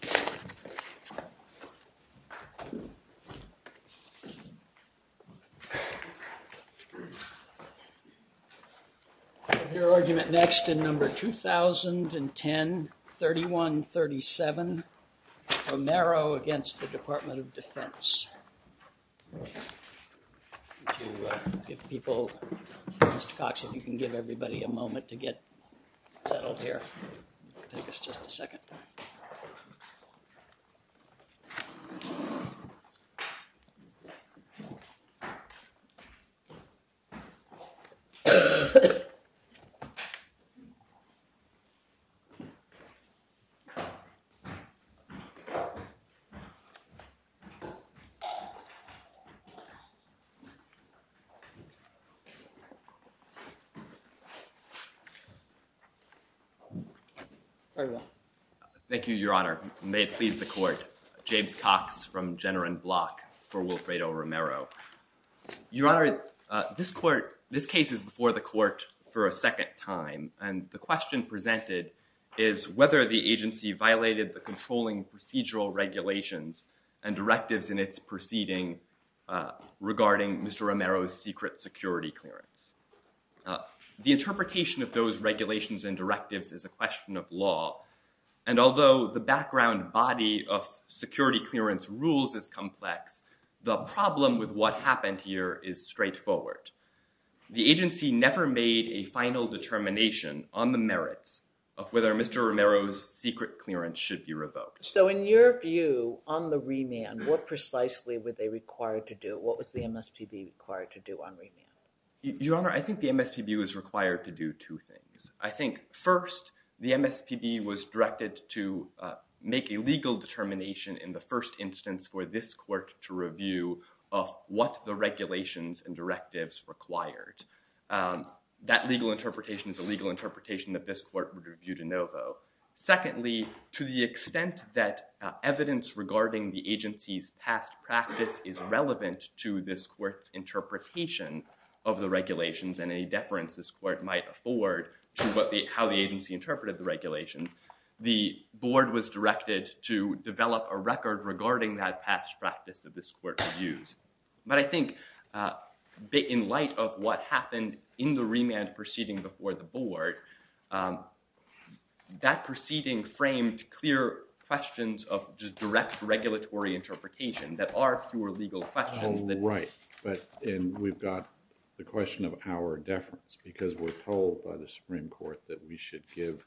Mr. Cox, if you can give everybody a moment to get settled here, take us just a second. Mr. Cox, if you can give everybody a moment to get settled here, take us just a second. Thank you, Your Honor. May it please the Court. James Cox from Jenner and Block for Wilfredo Romero. Your Honor, this case is before the Court for a second time, and the question presented is whether the agency violated the controlling procedural regulations and directives in its proceeding regarding Mr. Romero's secret security clearance. The interpretation of those regulations and directives is a question of law, and although the background body of security clearance rules is complex, the problem with what happened here is straightforward. The agency never made a final determination on the merits of whether Mr. Romero's secret clearance should be revoked. So in your view, on the remand, what precisely were they required to do? What was the MSPB required to do on remand? Your Honor, I think the MSPB was required to do two things. I think, first, the MSPB was directed to make a legal determination in the first instance for this Court to review of what the regulations and directives required. That legal interpretation is a legal interpretation that this Court would review de novo. Secondly, to the extent that evidence regarding the agency's past practice is relevant to this Court's interpretation of the regulations and any deference this Court might afford to how the agency interpreted the regulations, the Board was directed to develop a record regarding that past practice that this Court would use. But I think in light of what happened in the remand proceeding before the Board, that proceeding framed clear questions of just direct regulatory interpretation that are pure legal questions. Oh, right. And we've got the question of our deference because we're told by the Supreme Court that we should give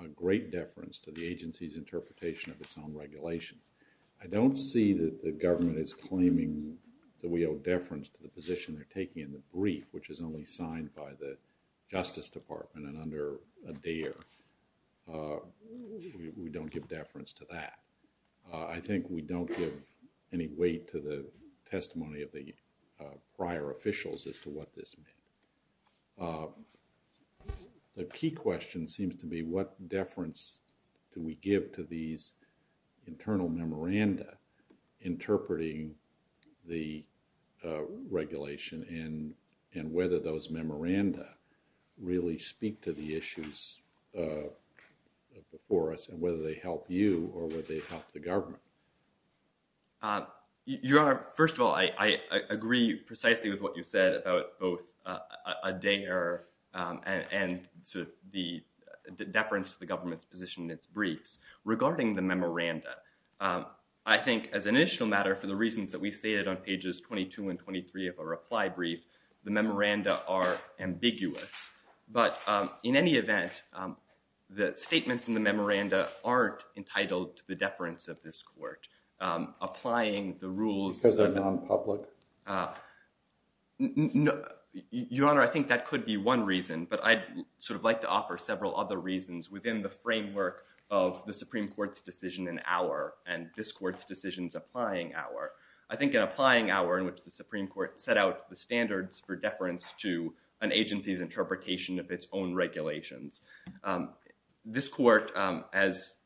a great deference to the agency's interpretation of its own regulations. I don't see that the government is claiming that we owe deference to the position they're taking in the brief, which is only signed by the Justice Department and under Adair. We don't give deference to that. I think we don't give any weight to the testimony of the prior officials as to what this meant. The key question seems to be what deference do we give to these internal memoranda interpreting the regulation and whether those memoranda really speak to the issues before us and whether they help you or whether they help the government. Your Honor, first of all, I agree precisely with what you said about both Adair and the deference to the government's position in its briefs regarding the memoranda. I think as an initial matter, for the reasons that we stated on pages 22 and 23 of a reply brief, the memoranda are ambiguous. But in any event, the statements in the memoranda aren't entitled to the deference of this Court applying the rules. Because they're non-public? Your Honor, I think that could be one reason, but I'd like to offer several other reasons within the framework of the Supreme Court's decision in Auer and this Court's decision in Applying Auer. I think in Applying Auer, in which the Supreme Court set out the standards for deference to an agency's interpretation of its own regulations, this Court, as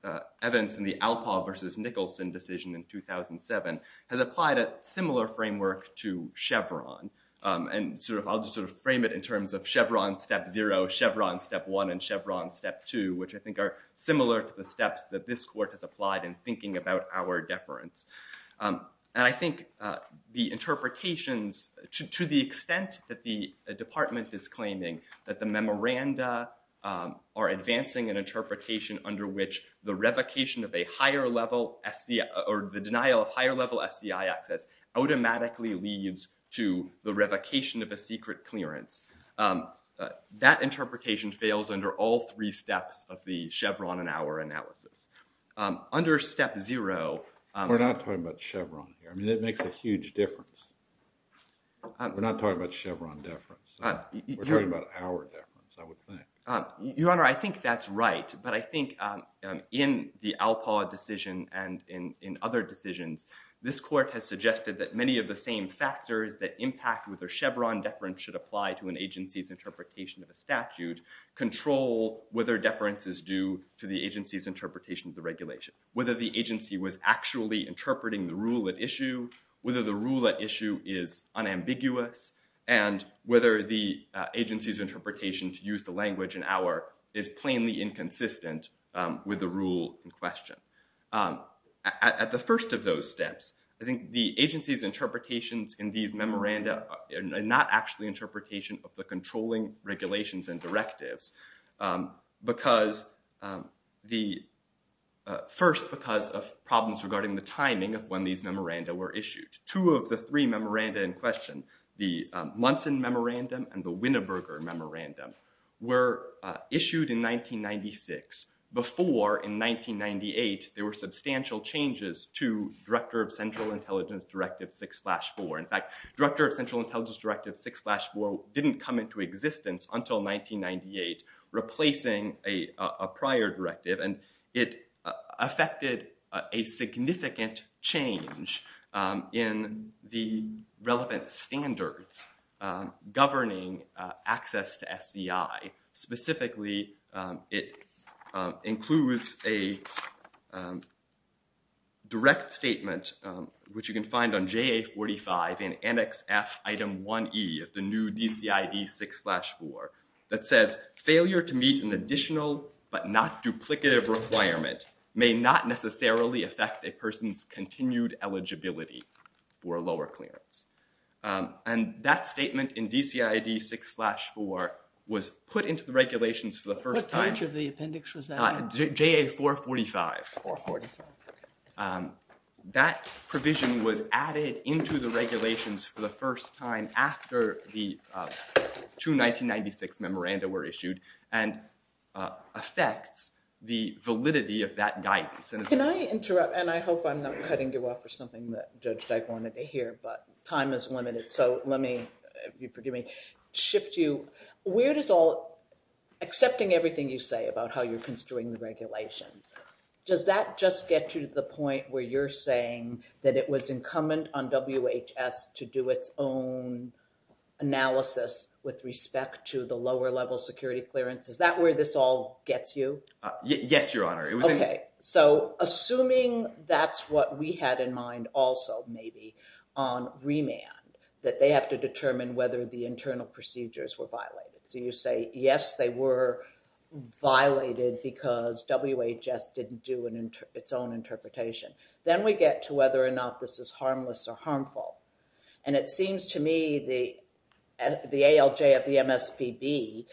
evidenced in the Alpov v. Nicholson decision in 2007, has applied a similar framework to Chevron. And I'll just sort of frame it in terms of Chevron Step 0, Chevron Step 1, and Chevron Step 2, which I think are similar to the steps that this Court has applied in thinking about our deference. And I think the interpretations, to the extent that the Department is claiming that the memoranda are advancing an interpretation under which the revocation of a higher-level SCI, or the denial of higher-level SCI access automatically leads to the revocation of a secret clearance, that interpretation fails under all three steps of the Chevron and Auer analysis. Under Step 0... We're not talking about Chevron here. I mean, that makes a huge difference. We're not talking about Chevron deference. We're talking about Auer deference, I would think. Your Honor, I think that's right, but I think in the Alpov decision and in other decisions, this Court has suggested that many of the same factors that impact whether Chevron deference should apply to an agency's interpretation of a statute control whether deference is due to the agency's interpretation of the regulation, whether the agency was actually interpreting the rule at issue, whether the rule at issue is unambiguous, and whether the agency's interpretation to use the language in Auer is plainly inconsistent with the rule in question. At the first of those steps, I think the agency's interpretations in these memoranda are not actually interpretation of the controlling regulations and directives because the... First, because of problems regarding the timing of when these memoranda were issued. Two of the three memoranda in question, the Munson Memorandum and the Winneburger Memorandum, were issued in 1996. Before, in 1998, there were substantial changes to Director of Central Intelligence Directive 6-4. In fact, Director of Central Intelligence Directive 6-4 didn't come into existence until 1998, replacing a prior directive, and it affected a significant change in the relevant standards governing access to SCI. Specifically, it includes a direct statement, which you can find on JA-45 in Annex F, Item 1E of the new DCID 6-4, that says failure to meet an additional but not duplicative requirement may not necessarily affect a person's continued eligibility for a lower clearance. And that statement in DCID 6-4 was put into the regulations for the first time. What page of the appendix was that on? JA-445. That provision was added into the regulations for the first time after the true 1996 memoranda were issued, and affects the validity of that guidance. Can I interrupt? And I hope I'm not cutting you off for something that Judge Dyke wanted to hear, but time is limited. So let me, if you forgive me, shift you. Where does all, accepting everything you say about how you're construing the regulations, does that just get you to the point where you're saying that it was incumbent on WHS to do its own analysis with respect to the lower level security clearance? Is that where this all gets you? Yes, Your Honor. Okay. So assuming that's what we had in mind also, maybe, on remand, that they have to determine whether the internal procedures were violated. So you say, yes, they were violated because WHS didn't do its own interpretation. Then we get to whether or not this is harmless or harmful. And it seems to me the ALJ at the MSPB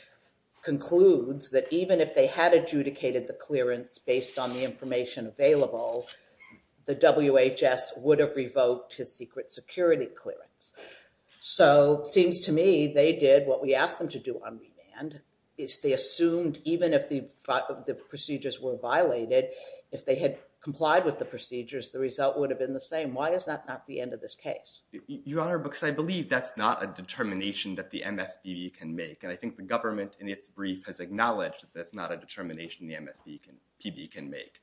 concludes that even if they had adjudicated the clearance based on the information available, the WHS would have revoked his secret security clearance. So it seems to me they did what we asked them to do on remand. They assumed even if the procedures were violated, if they had complied with the procedures, the result would have been the same. Why is that not the end of this case? Your Honor, because I believe that's not a determination that the MSPB can make. And I think the government in its brief has acknowledged that that's not a determination the MSPB can make.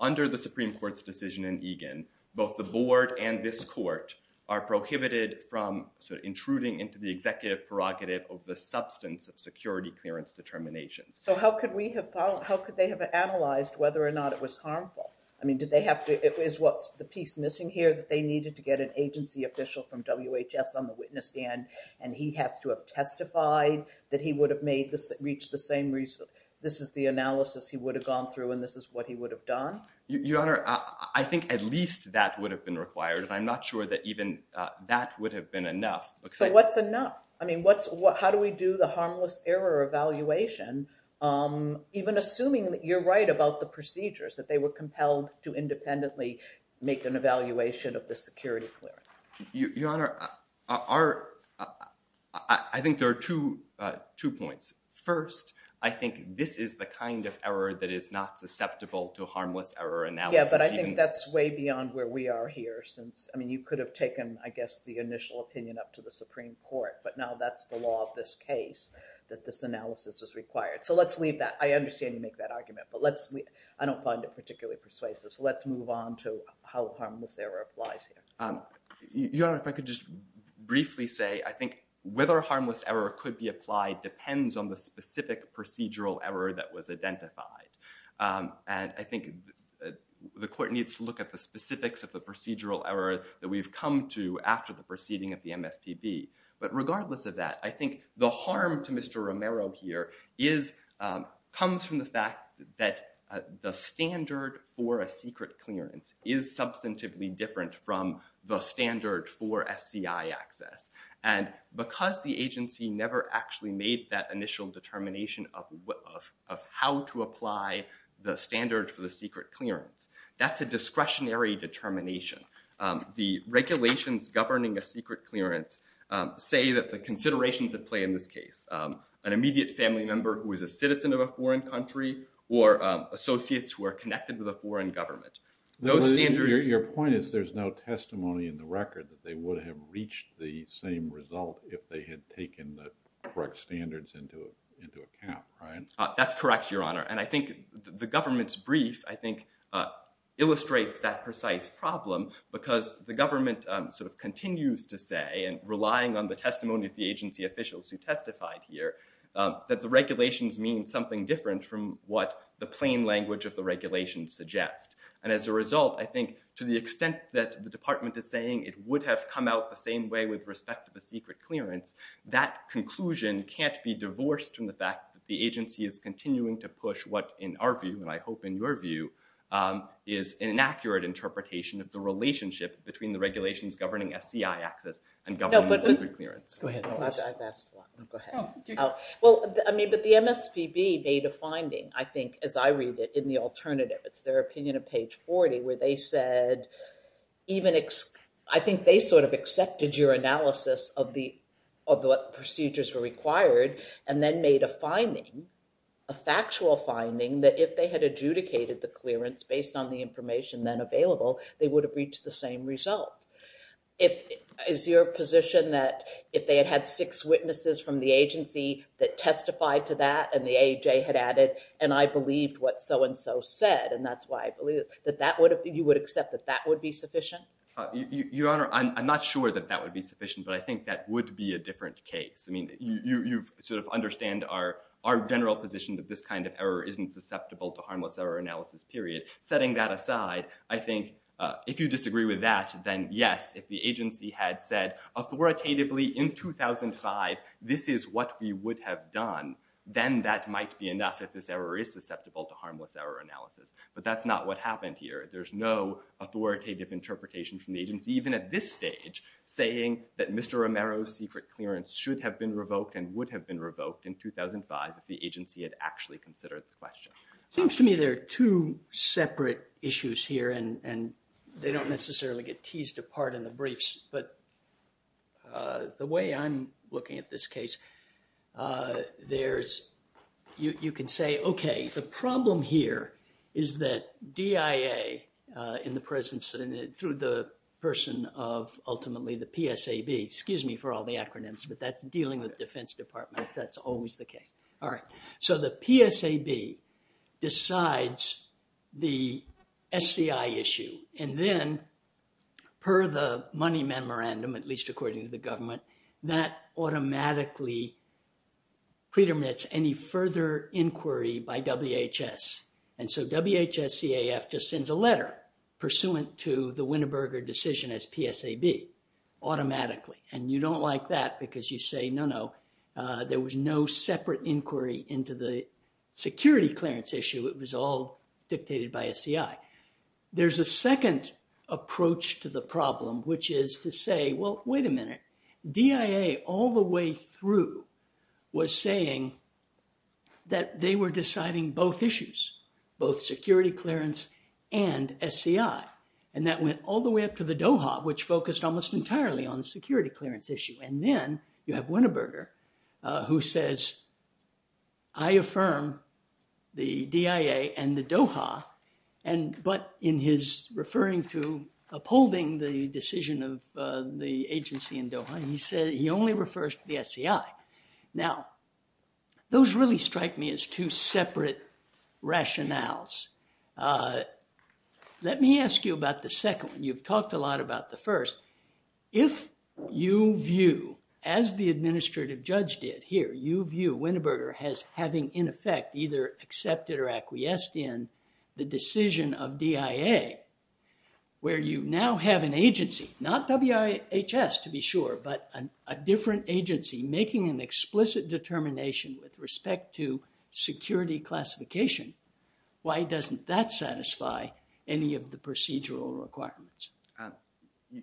Under the Supreme Court's decision in Egan, both the board and this court are prohibited from intruding into the executive prerogative of the substance of security clearance determination. So how could they have analyzed whether or not it was harmful? I mean, is what's the piece missing here that they needed to get an agency official from WHS on the witness stand and he has to have testified that he would have reached the same result? This is the analysis he would have gone through and this is what he would have done? Your Honor, I think at least that would have been required. And I'm not sure that even that would have been enough. So what's enough? I mean, how do we do the harmless error evaluation? Even assuming that you're right about the procedures, that they were compelled to independently make an evaluation of the security clearance. Your Honor, I think there are two points. First, I think this is the kind of error that is not susceptible to harmless error analysis. Yeah, but I think that's way beyond where we are here. I mean, you could have taken, I guess, the initial opinion up to the Supreme Court. But now that's the law of this case that this analysis is required. So let's leave that. I understand you make that argument, but I don't find it particularly persuasive. So let's move on to how harmless error applies here. Your Honor, if I could just briefly say, I think whether harmless error could be applied depends on the specific procedural error that was identified. And I think the court needs to look at the specifics of the procedural error that we've come to after the proceeding of the MSPB. But regardless of that, I think the harm to Mr. Romero here comes from the fact that the standard for a secret clearance is substantively different from the standard for SCI access. And because the agency never actually made that initial determination of how to apply the standard for the secret clearance, that's a discretionary determination. The regulations governing a secret clearance say that the considerations that play in this case, an immediate family member who is a citizen of a foreign country or associates who are connected to the foreign government. Your point is there's no testimony in the record that they would have reached the same result if they had taken the correct standards into account, right? That's correct, Your Honor. And I think the government's brief, I think, illustrates that precise problem because the government sort of continues to say, and relying on the testimony of the agency officials who testified here, that the regulations mean something different from what the plain language of the regulations suggest. And as a result, I think to the extent that the department is saying it would have come out the same way with respect to the secret clearance, that conclusion can't be divorced from the fact that the agency is continuing to push what, in our view, and I hope in your view, is an inaccurate interpretation of the relationship between the regulations governing SCI access and governing the secret clearance. Go ahead, please. I've asked a lot. Go ahead. Well, I mean, but the MSPB made a finding, I think, as I read it, in the alternative. It's their opinion of page 40 where they said even, I think they sort of accepted your analysis of what procedures were required and then made a finding, a factual finding that if they had adjudicated the clearance based on the information then available, they would have reached the same result. Is your position that if they had had six witnesses from the agency that testified to that and the AJ had added, and I believed what so and so said, and that's why I believe it, that you would accept that that would be sufficient? Your Honor, I'm not sure that that would be sufficient, but I think that would be a different case. I mean, you sort of understand our general position that this kind of error isn't susceptible to harmless error analysis, period. Setting that aside, I think if you disagree with that, then yes, if the agency had said authoritatively in 2005 this is what we would have done, then that might be enough if this error is susceptible to harmless error analysis, but that's not what happened here. There's no authoritative interpretation from the agency, even at this stage, saying that Mr. Romero's secret clearance should have been revoked and would have been revoked in 2005 if the agency had actually considered the question. Seems to me there are two separate issues here and they don't necessarily get teased apart in the briefs, but the way I'm looking at this case, you can say, okay, the problem here is that DIA, in the presence and through the person of ultimately the PSAB, excuse me for all the acronyms, but that's dealing with the Defense Department, that's always the case. All right, so the PSAB decides the SCI issue and then per the money memorandum, at least according to the government, that automatically predominates any further inquiry by WHS. And so WHS-CAF just sends a letter pursuant to the Winterberger decision as PSAB automatically. And you don't like that because you say, no, no, there was no separate inquiry into the security clearance issue. It was all dictated by SCI. There's a second approach to the problem, which is to say, well, wait a minute, DIA all the way through was saying that they were deciding both issues, both security clearance and SCI. And that went all the way up to the Doha, which focused almost entirely on the security clearance issue. And then you have Winterberger who says, I affirm the DIA and the Doha, but in his referring to upholding the decision of the agency in Doha, he said he only refers to the SCI. Now, those really strike me as two separate rationales. Let me ask you about the second one. You've talked a lot about the first. If you view, as the administrative judge did here, you view Winterberger as having, in effect, either accepted or acquiesced in the decision of DIA, where you now have an agency, not WIHS to be sure, but a different agency making an explicit determination with respect to security classification, why doesn't that satisfy any of the procedural requirements?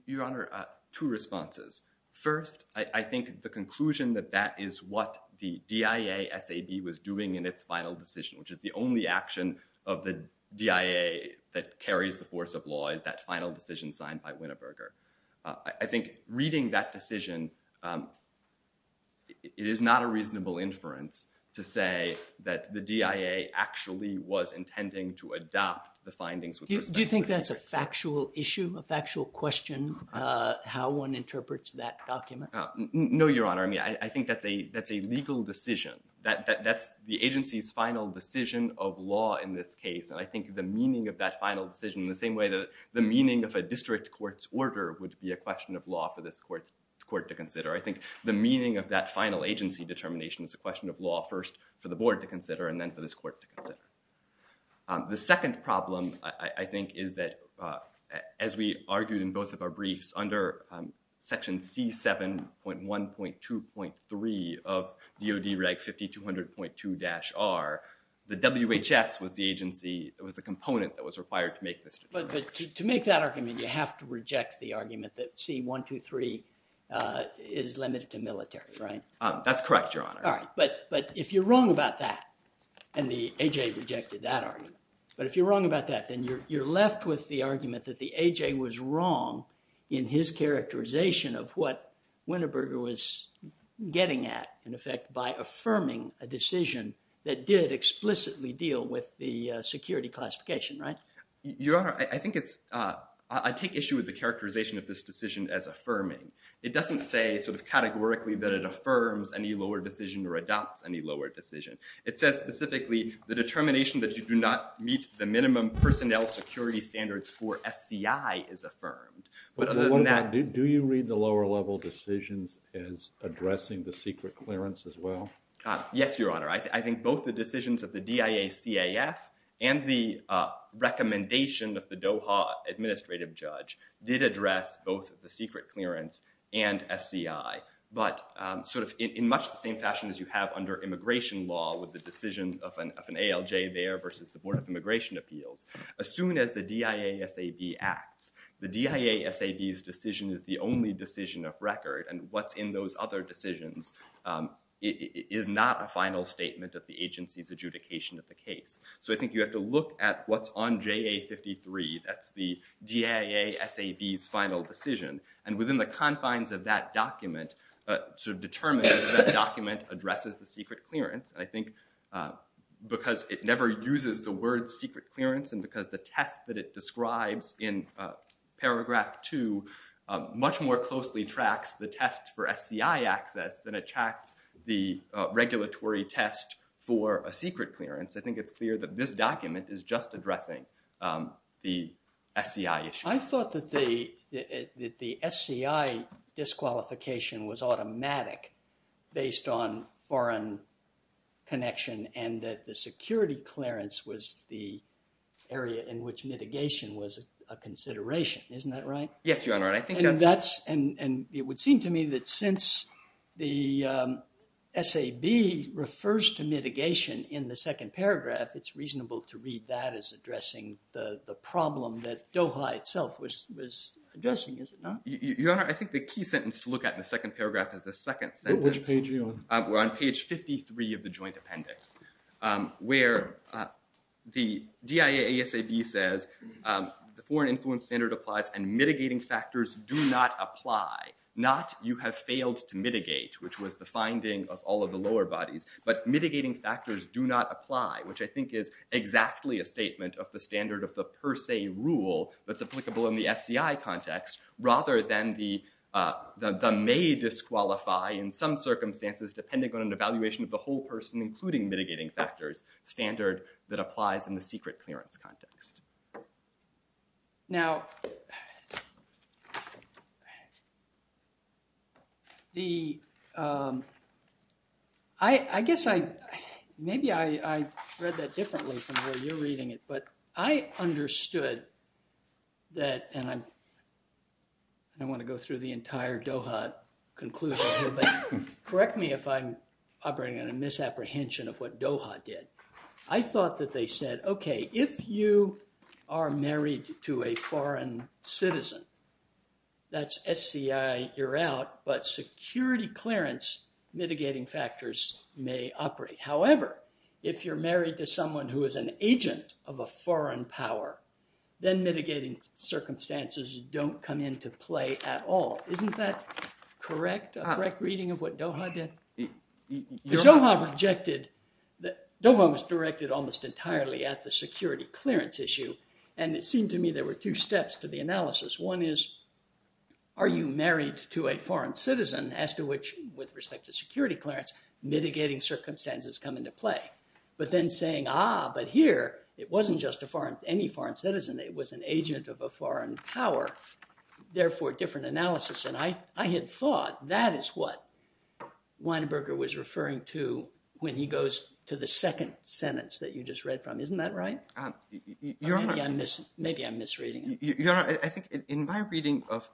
Your Honor, two responses. First, I think the conclusion that that is what the DIA SAB was doing in its final decision, which is the only action of the DIA that carries the force of law is that final decision signed by Winterberger. I think reading that decision, it is not a reasonable inference to say that the DIA actually was intending to adopt the findings. Do you think that's a factual issue, a factual question, how one interprets that document? No, Your Honor. I mean, I think that's a legal decision. That's the agency's final decision of law in this case. And I think the meaning of that final decision in the same way that the meaning of a district court's order would be a question of law for this court to consider. I think the meaning of that final agency determination is a question of law first for the board to consider and then for this court to consider. The second problem, I think, is that as we argued in both of our briefs under Section C7.1.2.3 of DOD Reg 5200.2-R, the WHS was the component that was required to make this decision. But to make that argument, you have to reject the argument that C123 is limited to military, right? That's correct, Your Honor. All right, but if you're wrong about that, and the A.J. rejected that argument, but if you're wrong about that, then you're left with the argument that the A.J. was wrong in his characterization of what Winterberger was getting at, in effect, by affirming a decision that did explicitly deal with the security classification, right? Your Honor, I take issue with the characterization of this decision as affirming. It doesn't say sort of categorically that it affirms any lower decision or adopts any lower decision. It says specifically the determination that you do not meet the minimum personnel security standards for SCI is affirmed. Do you read the lower level decisions as addressing the secret clearance as well? Yes, Your Honor. I think both the decisions of the DIA-CAF and the recommendation of the Doha administrative judge did address both the secret clearance and SCI, but sort of in much the same fashion as you have under immigration law with the decision of an ALJ there versus the Board of Immigration Appeals. As soon as the DIA-SAB acts, the DIA-SAB's decision is the only decision of record, and what's in those other decisions is not a final statement of the agency's adjudication of the case. So I think you have to look at what's on JA-53. That's the DIA-SAB's final decision, and within the confines of that document, sort of determine if that document addresses the secret clearance. I think because it never uses the word secret clearance and because the test that it describes in paragraph two much more closely tracks the test for SCI access than it tracks the regulatory test for a secret clearance, I think it's clear that this document is just addressing the SCI issue. I thought that the SCI disqualification was automatic based on foreign connection and that the security clearance was the area in which mitigation was a consideration. Isn't that right? Yes, Your Honor. And it would seem to me that since the SAB refers to mitigation in the second paragraph, it's reasonable to read that as addressing the problem that DOHA itself was addressing, is it not? Your Honor, I think the key sentence to look at in the second paragraph is the second sentence. Which page are you on? We're on page 53 of the joint appendix where the DIA-ASAB says the foreign influence standard applies and mitigating factors do not apply. Not you have failed to mitigate, which was the finding of all of the lower bodies, but mitigating factors do not apply, which I think is exactly a statement of the standard of the per se rule that's applicable in the SCI context, rather than the may disqualify in some circumstances depending on an evaluation of the whole person, including mitigating factors standard that applies in the secret clearance context. Now, I guess maybe I read that differently from where you're reading it, but I understood that, and I want to go through the entire DOHA conclusion here, but correct me if I'm operating on a misapprehension of what DOHA did. I thought that they said, okay, if you are married to a foreign citizen, that's SCI, you're out, but security clearance mitigating factors may operate. However, if you're married to someone who is an agent of a foreign power, then mitigating circumstances don't come into play at all. Isn't that correct, a correct reading of what DOHA did? DOHA was directed almost entirely at the security clearance issue, and it seemed to me there were two steps to the analysis. One is, are you married to a foreign citizen as to which, with respect to security clearance, mitigating circumstances come into play? But then saying, ah, but here it wasn't just any foreign citizen, it was an agent of a foreign power, therefore different analysis, and I had thought that is what Weinberger was referring to when he goes to the second sentence that you just read from. Isn't that right? Maybe I'm misreading it. Your Honor, I think in my reading of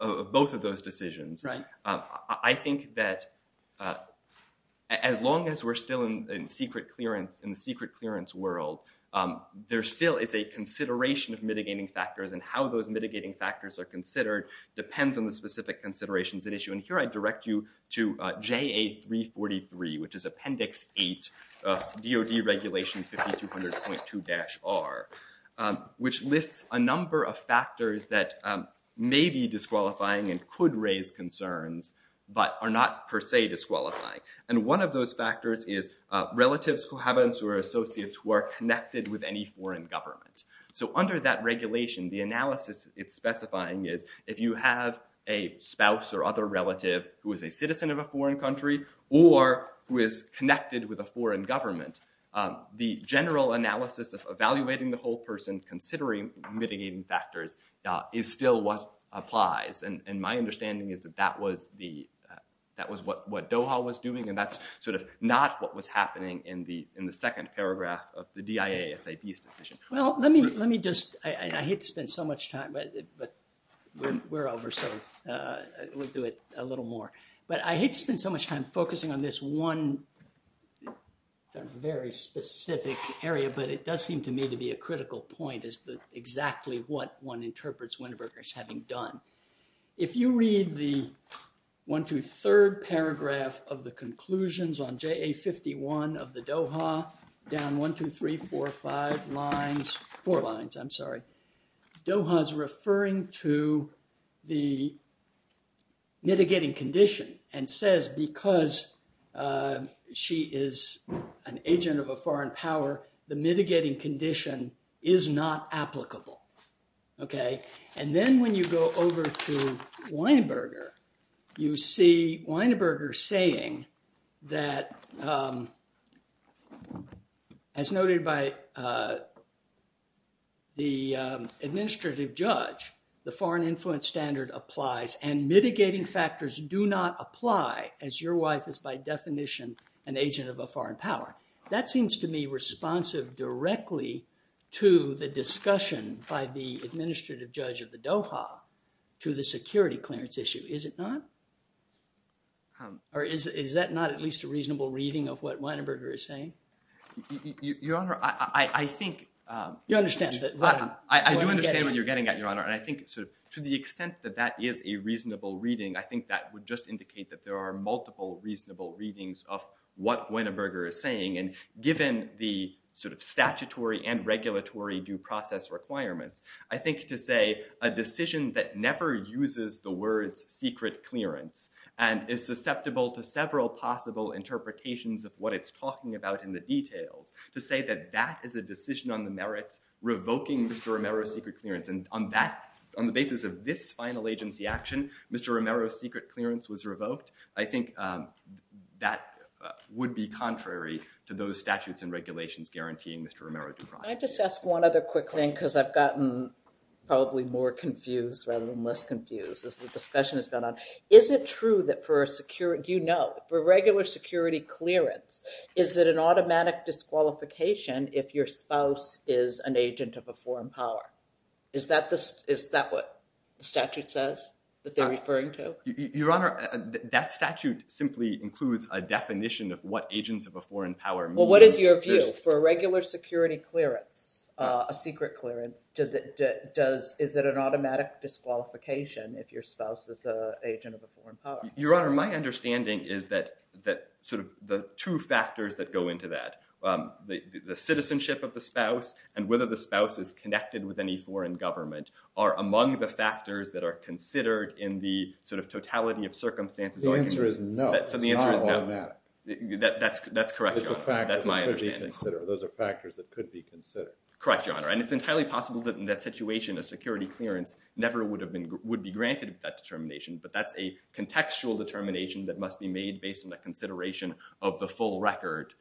both of those decisions, I think that as long as we're still in the secret clearance world, there still is a consideration of mitigating factors, and how those mitigating factors are considered depends on the specific considerations at issue. And here I direct you to JA343, which is Appendix 8 of DOD Regulation 5200.2-R, which lists a number of factors that may be disqualifying and could raise concerns, but are not per se disqualifying. And one of those factors is relatives, cohabitants, or associates who are connected with any foreign government. So under that regulation, the analysis it's specifying is if you have a spouse or other relative who is a citizen of a foreign country or who is connected with a foreign government, the general analysis of evaluating the whole person, considering mitigating factors, is still what applies. And my understanding is that that was what Doha was doing, and that's sort of not what was happening in the second paragraph of the DIA-SAP's decision. Well, let me just – I hate to spend so much time, but we're over, so we'll do it a little more. But I hate to spend so much time focusing on this one very specific area, but it does seem to me to be a critical point as to exactly what one interprets Winterberg as having done. If you read the one-two-third paragraph of the conclusions on JA-51 of the Doha, down one, two, three, four, five lines – four lines, I'm sorry – Doha is referring to the mitigating condition and says because she is an agent of a foreign power, the mitigating condition is not applicable. Okay, and then when you go over to Weinberger, you see Weinberger saying that, as noted by the administrative judge, the foreign influence standard applies and mitigating factors do not apply as your wife is by definition an agent of a foreign power. That seems to me responsive directly to the discussion by the administrative judge of the Doha to the security clearance issue. Is it not? Or is that not at least a reasonable reading of what Weinberger is saying? Your Honor, I think – You understand that – I do understand what you're getting at, Your Honor, and I think to the extent that that is a reasonable reading, I think that would just indicate that there are multiple reasonable readings of what Weinberger is saying, and given the sort of statutory and regulatory due process requirements, I think to say a decision that never uses the words secret clearance and is susceptible to several possible interpretations of what it's talking about in the details, to say that that is a decision on the merits revoking Mr. Romero's secret clearance, and on the basis of this final agency action, Mr. Romero's secret clearance was revoked, I think that would be contrary to those statutes and regulations guaranteeing Mr. Romero due process. Can I just ask one other quick thing because I've gotten probably more confused rather than less confused as the discussion has gone on? Is it true that for a regular security clearance, is it an automatic disqualification if your spouse is an agent of a foreign power? Is that what the statute says that they're referring to? Your Honor, that statute simply includes a definition of what agents of a foreign power mean. Well, what is your view? For a regular security clearance, a secret clearance, is it an automatic disqualification if your spouse is an agent of a foreign power? Your Honor, my understanding is that sort of the two factors that go into that, the citizenship of the spouse and whether the spouse is connected with any foreign government, are among the factors that are considered in the sort of totality of circumstances. The answer is no. It's not on that. That's correct, Your Honor. That's my understanding. Those are factors that could be considered. Correct, Your Honor. And it's entirely possible that in that situation, a security clearance never would be granted that determination, but that's a contextual determination that must be made based on the consideration of the full record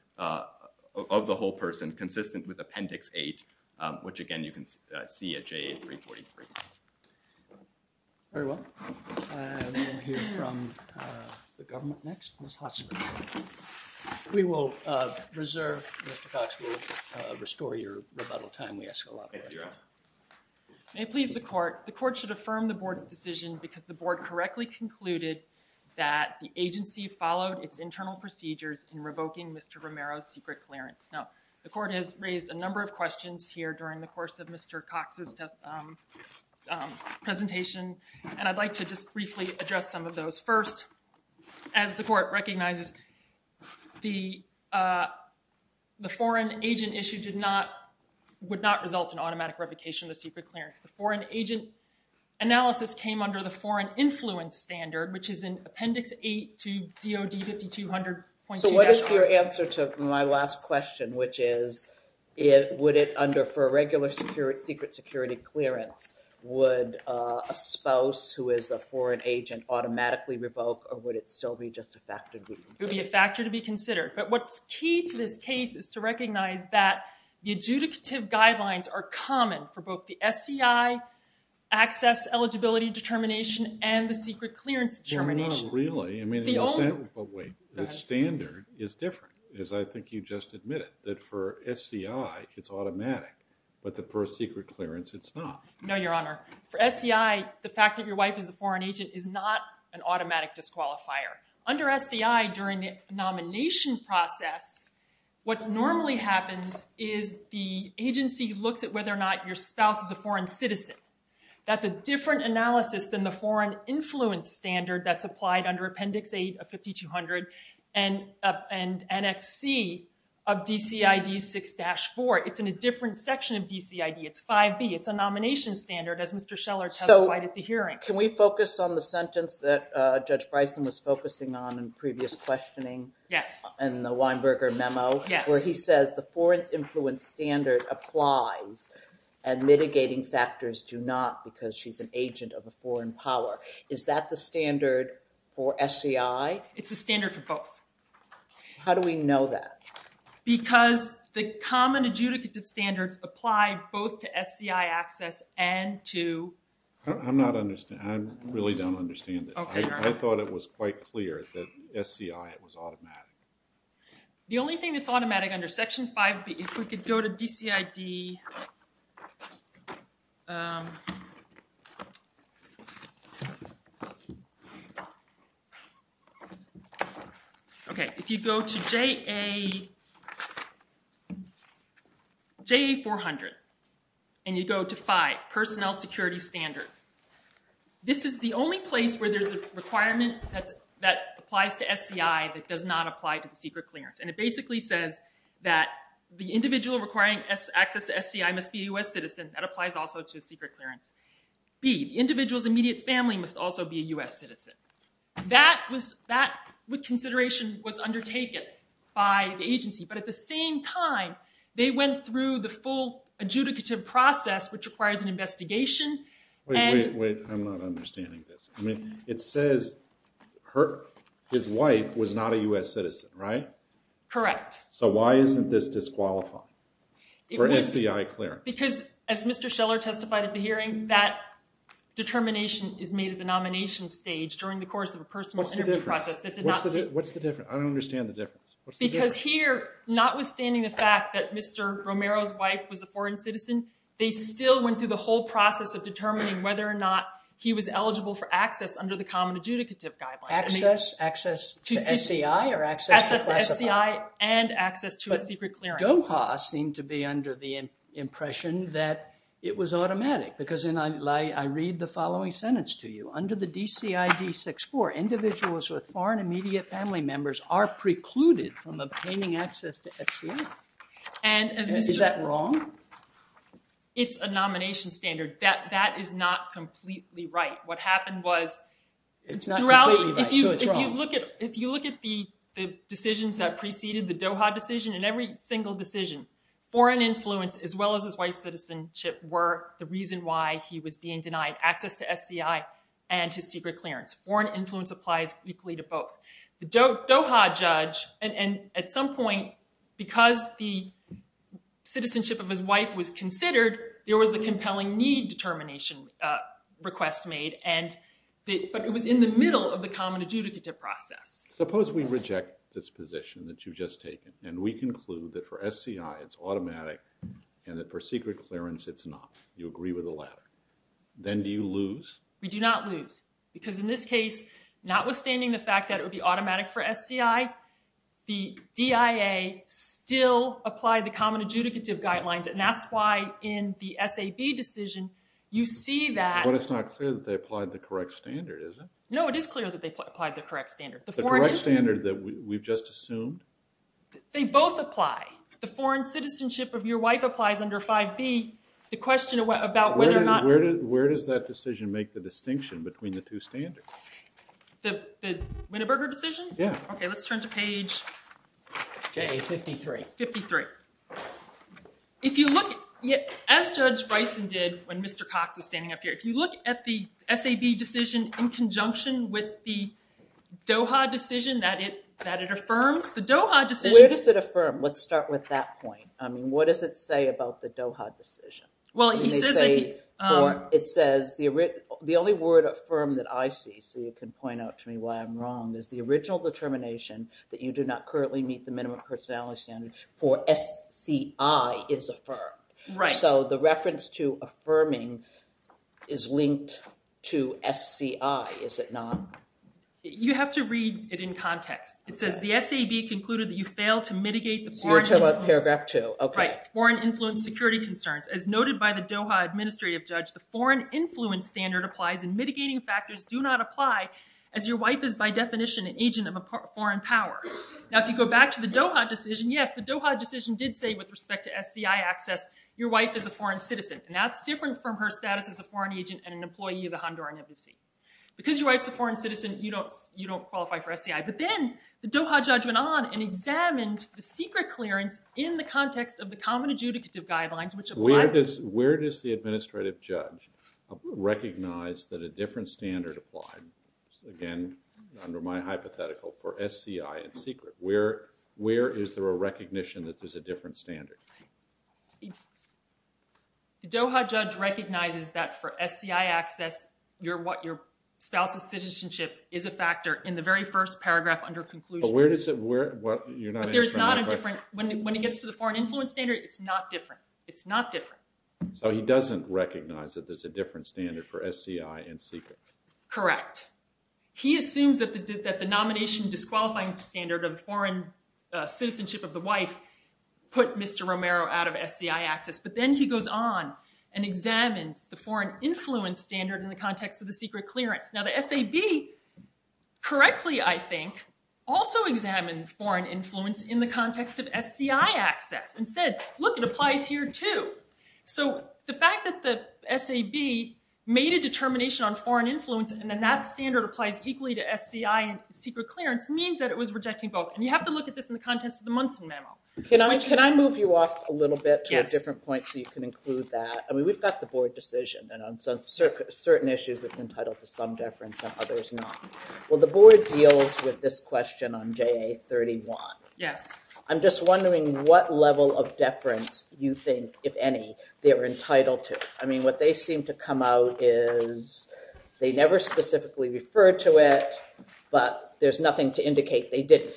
of the whole person, consistent with Appendix 8, which, again, you can see at JA 343. Very well. We will hear from the government next. Ms. Hosser. We will reserve. Mr. Cox will restore your rebuttal time. We ask a lot of that. Thank you, Your Honor. May it please the court. The court should affirm the board's decision because the board correctly concluded that the agency followed its internal procedures in revoking Mr. Romero's secret clearance. Now, the court has raised a number of questions here during the course of Mr. Cox's presentation, and I'd like to just briefly address some of those. First, as the court recognizes, the foreign agent issue would not result in automatic revocation of the secret clearance. The foreign agent analysis came under the foreign influence standard, which is in Appendix 8 to DOD 5200.2. So what is your answer to my last question, which is, would it under, for a regular secret security clearance, would a spouse who is a foreign agent automatically revoke, or would it still be just a factor to be considered? It would be a factor to be considered. But what's key to this case is to recognize that the adjudicative guidelines are common for both the SCI access eligibility determination and the secret clearance determination. Well, not really. I mean, the standard is different, as I think you just admitted, that for SCI, it's automatic. But for a secret clearance, it's not. No, Your Honor. For SCI, the fact that your wife is a foreign agent is not an automatic disqualifier. Under SCI, during the nomination process, what normally happens is the agency looks at whether or not your spouse is a foreign citizen. That's a different analysis than the foreign influence standard that's applied under Appendix 8 of 5200 and NXC of DCID 6-4. It's in a different section of DCID. It's 5B. It's a nomination standard, as Mr. Scheller testified at the hearing. So, can we focus on the sentence that Judge Bryson was focusing on in previous questioning? Yes. In the Weinberger memo? Yes. Where he says, the foreign influence standard applies, and mitigating factors do not because she's an agent of a foreign power. Is that the standard for SCI? It's a standard for both. How do we know that? Because the common adjudicative standards apply both to SCI access and to... I'm not understanding. I really don't understand this. I thought it was quite clear that SCI was automatic. The only thing that's automatic under Section 5B, if we could go to DCID... Okay, if you go to JA400, and you go to 5, Personnel Security Standards. This is the only place where there's a requirement that applies to SCI that does not apply to the Secret Clearance. And it basically says that the individual requiring access to SCI must be a U.S. citizen. That applies also to Secret Clearance. B, the individual's immediate family must also be a U.S. citizen. That consideration was undertaken by the agency. But at the same time, they went through the full adjudicative process, which requires an investigation. Wait, wait, wait. I'm not understanding this. It says his wife was not a U.S. citizen, right? Correct. So why isn't this disqualified for SCI clearance? Because as Mr. Scheller testified at the hearing, that determination is made at the nomination stage during the course of a personal interview process. What's the difference? I don't understand the difference. Because here, notwithstanding the fact that Mr. Romero's wife was a foreign citizen, they still went through the whole process of determining whether or not he was eligible for access under the Common Adjudicative Guidelines. Access to SCI or access to classified? Access to SCI and access to a Secret Clearance. But DOHA seemed to be under the impression that it was automatic. Because I read the following sentence to you. Under the DCID 64, individuals with foreign immediate family members are precluded from obtaining access to SCI. Is that wrong? It's a nomination standard. That is not completely right. What happened was, if you look at the decisions that preceded the DOHA decision, in every single decision, foreign influence, as well as his wife's citizenship, were the reason why he was being denied access to SCI and his Secret Clearance. Foreign influence applies equally to both. The DOHA judge, at some point, because the citizenship of his wife was considered, there was a compelling need determination request made. But it was in the middle of the Common Adjudicative process. Suppose we reject this position that you've just taken, and we conclude that for SCI it's automatic and that for Secret Clearance it's not. You agree with the latter. Then do you lose? We do not lose. Because in this case, notwithstanding the fact that it would be automatic for SCI, the DIA still applied the Common Adjudicative guidelines, and that's why in the SAB decision you see that— But it's not clear that they applied the correct standard, is it? No, it is clear that they applied the correct standard. The correct standard that we've just assumed? They both apply. The foreign citizenship of your wife applies under 5B. The question about whether or not— Where does that decision make the distinction between the two standards? The Winneberger decision? Yeah. Okay, let's turn to page 53. As Judge Bryson did when Mr. Cox was standing up here, if you look at the SAB decision in conjunction with the DOHA decision that it affirms, the DOHA decision— Where does it affirm? Let's start with that point. I mean, what does it say about the DOHA decision? Well, it says— It says the only word affirmed that I see, so you can point out to me why I'm wrong, is the original determination that you do not currently meet the minimum personality standard for SCI is affirmed. Right. So the reference to affirming is linked to SCI, is it not? You have to read it in context. It says the SAB concluded that you failed to mitigate the foreign influence— So you're talking about paragraph 2. Okay. Foreign influence security concerns. As noted by the DOHA administrative judge, the foreign influence standard applies and mitigating factors do not apply as your wife is by definition an agent of a foreign power. Now, if you go back to the DOHA decision, yes, the DOHA decision did say with respect to SCI access, your wife is a foreign citizen, and that's different from her status as a foreign agent and an employee of the Honduran embassy. Because your wife's a foreign citizen, you don't qualify for SCI. But then the DOHA judge went on and examined the secret clearance in the context of the common adjudicative guidelines, which apply— Where does the administrative judge recognize that a different standard applied? Again, under my hypothetical, for SCI and secret, where is there a recognition that there's a different standard? The DOHA judge recognizes that for SCI access, your spouse's citizenship is a factor in the very first paragraph under conclusions. But where does it—you're not answering my question. When it gets to the foreign influence standard, it's not different. It's not different. So he doesn't recognize that there's a different standard for SCI and secret. Correct. He assumes that the nomination disqualifying standard of foreign citizenship of the wife put Mr. Romero out of SCI access. But then he goes on and examines the foreign influence standard in the context of the secret clearance. Now, the SAB, correctly, I think, also examined foreign influence in the context of SCI access and said, look, it applies here, too. So the fact that the SAB made a determination on foreign influence and then that standard applies equally to SCI and secret clearance means that it was rejecting both. And you have to look at this in the context of the Munson memo. Can I move you off a little bit to a different point so you can include that? I mean, we've got the board decision. And on certain issues, it's entitled to some deference and others not. Well, the board deals with this question on JA31. Yes. I'm just wondering what level of deference you think, if any, they were entitled to. I mean, what they seem to come out is they never specifically referred to it, but there's nothing to indicate they didn't.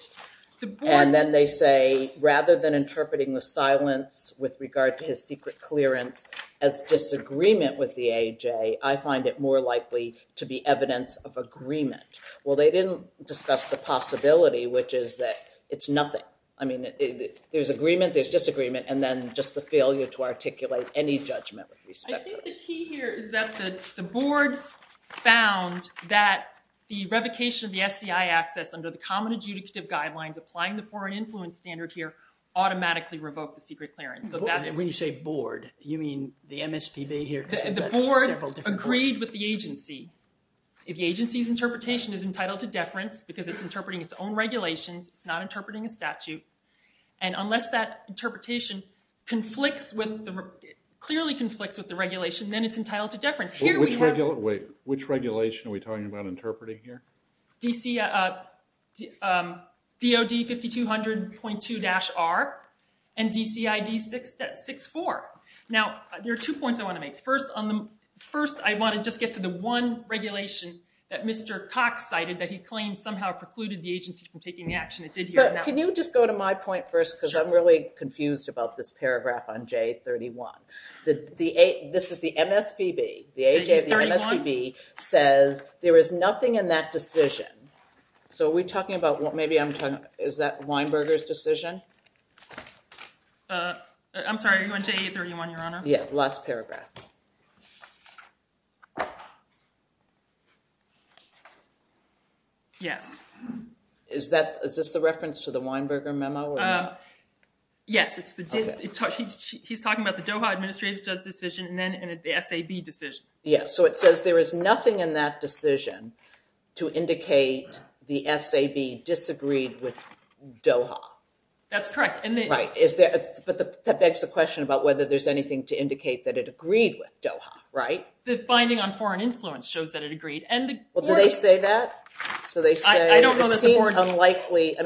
And then they say, rather than interpreting the silence with regard to his secret clearance as disagreement with the AJ, I find it more likely to be evidence of agreement. Well, they didn't discuss the possibility, which is that it's nothing. I mean, there's agreement, there's disagreement, and then just the failure to articulate any judgment with respect to it. I think the key here is that the board found that the revocation of the SCI access under the common adjudicative guidelines applying the foreign influence standard here automatically revoked the secret clearance. When you say board, you mean the MSPB here? The board agreed with the agency. If the agency's interpretation is entitled to deference because it's interpreting its own regulations, it's not interpreting a statute, and unless that interpretation clearly conflicts with the regulation, then it's entitled to deference. Which regulation are we talking about interpreting here? DOD 5200.2-R and DCID 6.4. Now, there are two points I want to make. First, I want to just get to the one regulation that Mr. Cox cited that he claims somehow precluded the agency from taking the action it did here. Can you just go to my point first because I'm really confused about this paragraph on J31. This is the MSPB. The MSPB says there is nothing in that decision. So are we talking about what maybe I'm talking about? Is that Weinberger's decision? I'm sorry, are you on J31, Your Honor? Yeah, last paragraph. Yes. Is this the reference to the Weinberger memo? Yes. He's talking about the Doha Administrative Justice decision and then the SAB decision. Yeah, so it says there is nothing in that decision to indicate the SAB disagreed with Doha. That's correct. Right. But that begs the question about whether there's anything to indicate that it agreed with Doha, right? The finding on foreign influence shows that it agreed. Well, do they say that? I don't know that the foreign influence.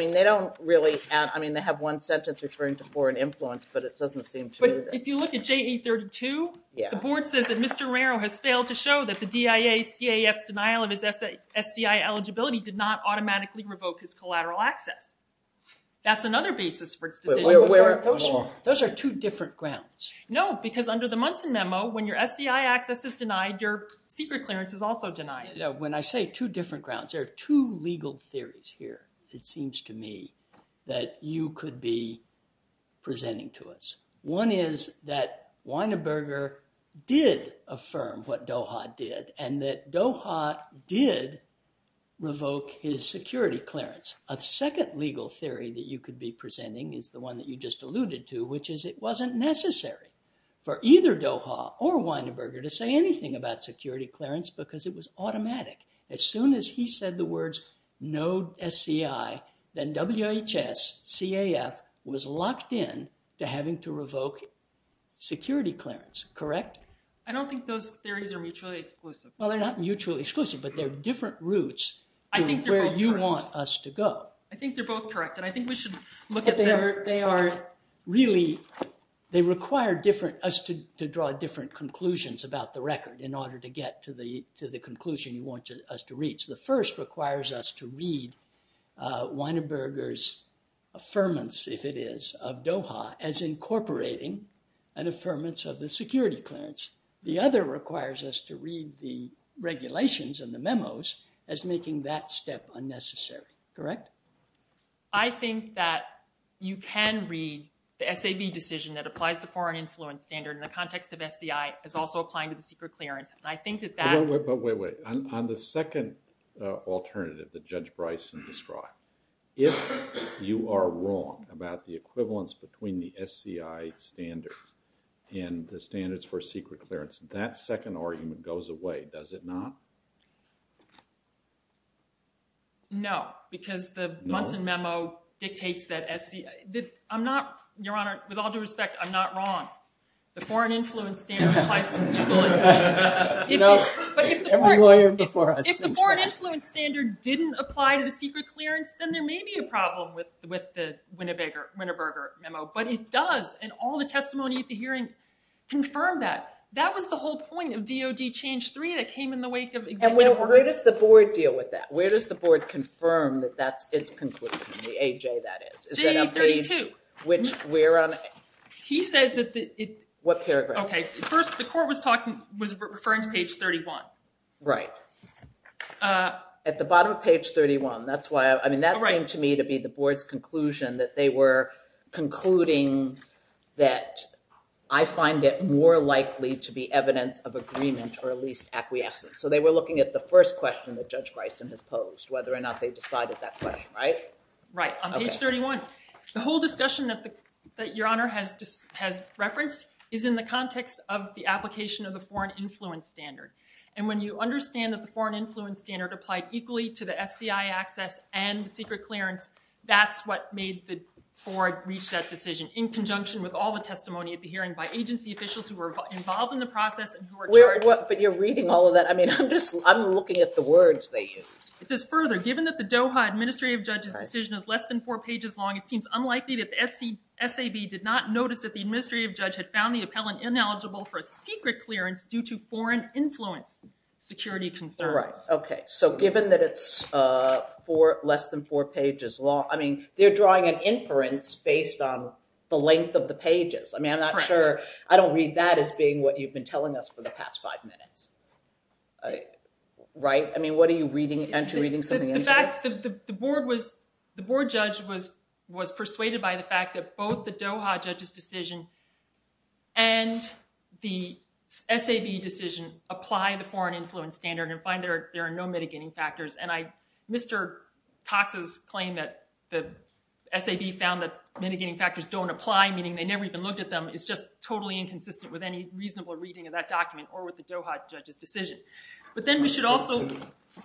I mean, they have one sentence referring to foreign influence, but it doesn't seem to. But if you look at J32, the board says that Mr. Romero has failed to show that the DIA CAF's denial of his SCI eligibility did not automatically revoke his collateral access. That's another basis for its decision. Those are two different grounds. No, because under the Munson memo, when your SCI access is denied, your secret clearance is also denied. When I say two different grounds, there are two legal theories here, it seems to me, that you could be presenting to us. One is that Weinberger did affirm what Doha did and that Doha did revoke his security clearance. A second legal theory that you could be presenting is the one that you just alluded to, which is it wasn't necessary for either Doha or Weinberger to say anything about security clearance because it was automatic. As soon as he said the words no SCI, then WHS CAF was locked in to having to revoke security clearance, correct? I don't think those theories are mutually exclusive. Well, they're not mutually exclusive, but they're different routes to where you want us to go. I think they're both correct, and I think we should look at them. They require us to draw different conclusions about the record in order to get to the conclusion you want us to reach. The first requires us to read Weinberger's affirmance, if it is, of Doha as incorporating an affirmance of the security clearance. The other requires us to read the regulations and the memos as making that step unnecessary, correct? I think that you can read the SAB decision that applies the foreign influence standard in the context of SCI as also applying to the secret clearance. Wait, wait, wait. On the second alternative that Judge Bryson described, if you are wrong about the equivalence between the SCI standards and the standards for secret clearance, that second argument goes away, does it not? No, because the Bunsen memo dictates that SCI, I'm not, Your Honor, with all due respect, I'm not wrong. The foreign influence standard applies to the equivalence. If the foreign influence standard didn't apply to the secret clearance, then there may be a problem with the Winneberger memo, but it does, and all the testimony at the hearing confirmed that. That was the whole point of DOD change three that came in the wake of executive order. And where does the board deal with that? Where does the board confirm that that's its conclusion, the AJ that is? Page 32. Which we're on? He says that the... What paragraph? Okay, first the court was talking, was referring to page 31. Right. At the bottom of page 31, that's why, I mean, that seemed to me to be the board's conclusion that they were concluding that I find it more likely to be evidence of agreement or at least acquiescence. So they were looking at the first question that Judge Bryson has posed, whether or not they decided that question, right? Right, on page 31. The whole discussion that Your Honor has referenced is in the context of the application of the foreign influence standard. And when you understand that the foreign influence standard applied equally to the SCI access and the secret clearance, that's what made the board reach that decision in conjunction with all the testimony at the hearing by agency officials who were involved in the process and who were charged... But you're reading all of that. I mean, I'm just, I'm looking at the words they used. It says further, given that the Doha Administrative Judge's decision is less than four pages long, it seems unlikely that the SAB did not notice that the Administrative Judge had found the appellant ineligible for a secret clearance due to foreign influence security concerns. Right, okay. So given that it's less than four pages long, I mean, they're drawing an inference based on the length of the pages. I mean, I'm not sure, I don't read that as being what you've been telling us for the past five minutes. Right? I mean, what are you reading? Are you reading something into this? The board judge was persuaded by the fact that both the Doha judge's decision and the SAB decision apply the foreign influence standard and find there are no mitigating factors. And Mr. Cox's claim that the SAB found that mitigating factors don't apply, meaning they never even looked at them, is just totally inconsistent with any reasonable reading of that document or with the Doha judge's decision. But then we should also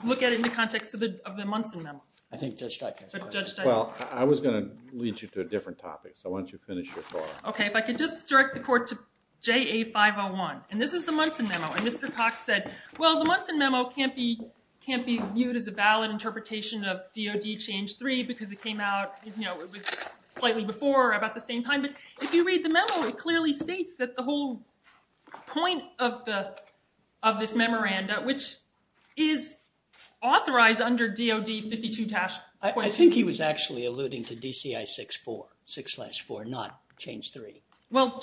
look at it in the context of the Munson Memo. I think Judge Steik has a question. Judge Steik. Well, I was going to lead you to a different topic, so why don't you finish your talk. Okay, if I could just direct the court to JA501. And this is the Munson Memo. And Mr. Cox said, well, the Munson Memo can't be viewed as a valid interpretation of DOD change three because it came out slightly before or about the same time. But if you read the memo, it clearly states that the whole point of this memoranda, which is authorized under DOD 52-point- Well,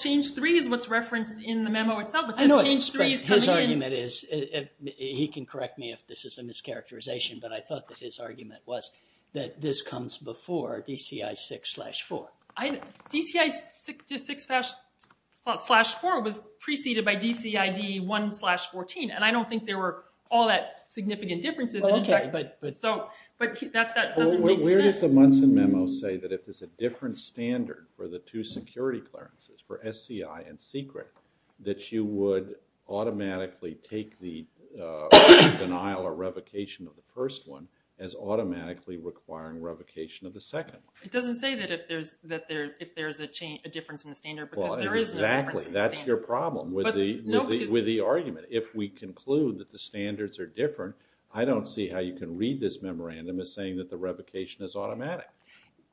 change three is what's referenced in the memo itself. I know, but his argument is, he can correct me if this is a mischaracterization, but I thought that his argument was that this comes before DCI 6-4. DCI 6-4 was preceded by DCID 1-14, and I don't think there were all that significant differences. Okay, but. But that doesn't make sense. But where does the Munson Memo say that if there's a different standard for the two security clearances, for SCI and secret, that you would automatically take the denial or revocation of the first one as automatically requiring revocation of the second one? It doesn't say that if there's a difference in the standard because there is a difference in the standard. Exactly, that's your problem with the argument. If we conclude that the standards are different, I don't see how you can read this memorandum as saying that the revocation is automatic.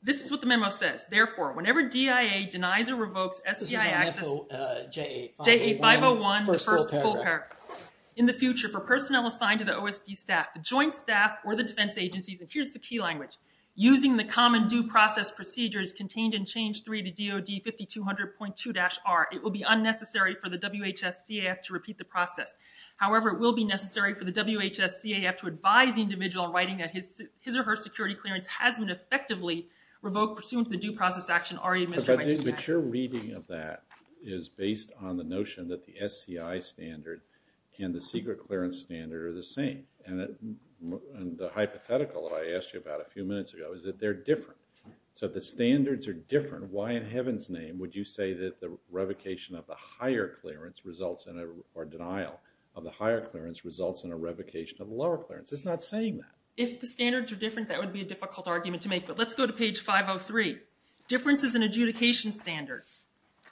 This is what the memo says. Therefore, whenever DIA denies or revokes SCI access- This is on FA, JA 501. JA 501, the first full paragraph. In the future, for personnel assigned to the OSD staff, the joint staff, or the defense agencies, and here's the key language, using the common due process procedures contained in change three to DOD 5200.2-R, it will be unnecessary for the WHS-CAF to repeat the process. However, it will be necessary for the WHS-CAF to advise the individual in writing that his or her security clearance has been effectively revoked pursuant to the due process action already administered by DIA. But your reading of that is based on the notion that the SCI standard and the secret clearance standard are the same. And the hypothetical that I asked you about a few minutes ago is that they're different. So the standards are different. Why in heaven's name would you say that the revocation of the higher clearance results in a- or denial of the higher clearance results in a revocation of the lower clearance? It's not saying that. If the standards are different, that would be a difficult argument to make. But let's go to page 503. Differences in adjudication standards.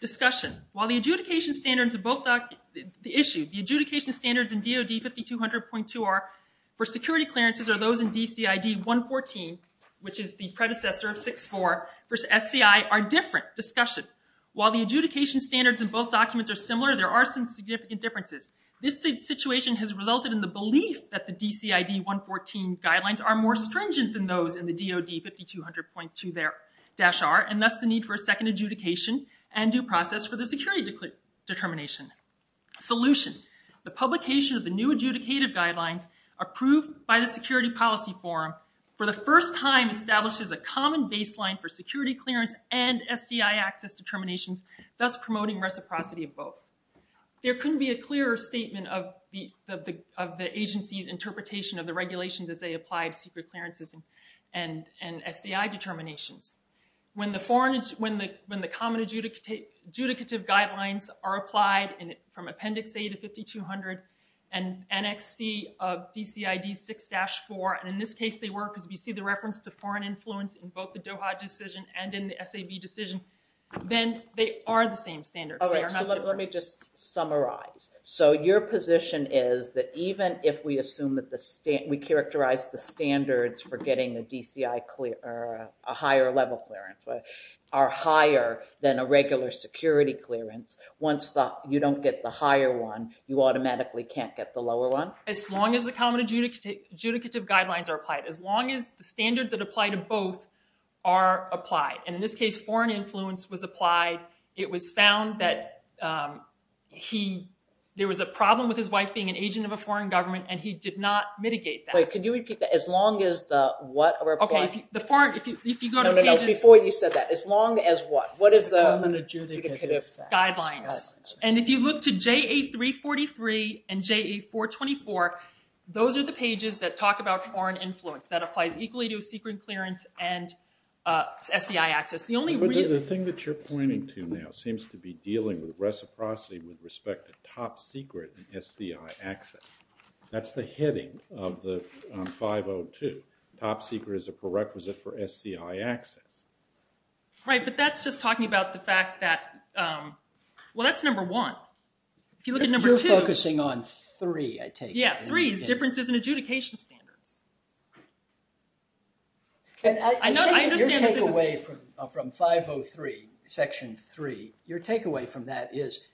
Discussion. While the adjudication standards of both doc- The issue. The adjudication standards in DOD 5200.2-R for security clearances are those in DCID 114, which is the predecessor of 64, versus SCI are different. Discussion. While the adjudication standards in both documents are similar, there are some significant differences. This situation has resulted in the belief that the DCID 114 guidelines are more stringent than those in the DOD 5200.2-R, and thus the need for a second adjudication and due process for the security determination. Solution. The publication of the new adjudicative guidelines, approved by the Security Policy Forum, for the first time establishes a common baseline for security clearance and SCI access determinations, thus promoting reciprocity of both. There couldn't be a clearer statement of the agency's interpretation of the regulations as they applied secret clearances and SCI determinations. When the common adjudicative guidelines are applied from Appendix A to 5200, and NXC of DCID 6-4, and in this case they were, because we see the reference to foreign influence in both the DOHA decision and in the SAB decision, then they are the same standards. They are not different. Let me just summarize. So your position is that even if we assume that we characterize the standards for getting a DCI, a higher level clearance, are higher than a regular security clearance, once you don't get the higher one, you automatically can't get the lower one? As long as the common adjudicative guidelines are applied. As long as the standards that apply to both are applied. And in this case foreign influence was applied. It was found that there was a problem with his wife being an agent of a foreign government and he did not mitigate that. Wait, can you repeat that? As long as the what are applied? No, no, no, before you said that. As long as what? What is the common adjudicative guidelines? And if you look to JA 343 and JA 424, those are the pages that talk about foreign influence. That applies equally to a secret clearance and SCI access. The thing that you're pointing to now seems to be dealing with reciprocity with respect to top secret and SCI access. That's the heading of the 502. Top secret is a prerequisite for SCI access. Right, but that's just talking about the fact that, well, that's number one. If you look at number two. You're focusing on three, I take it. Yeah, three is differences in adjudication standards. I take it your takeaway from 503, section three. Your takeaway from that is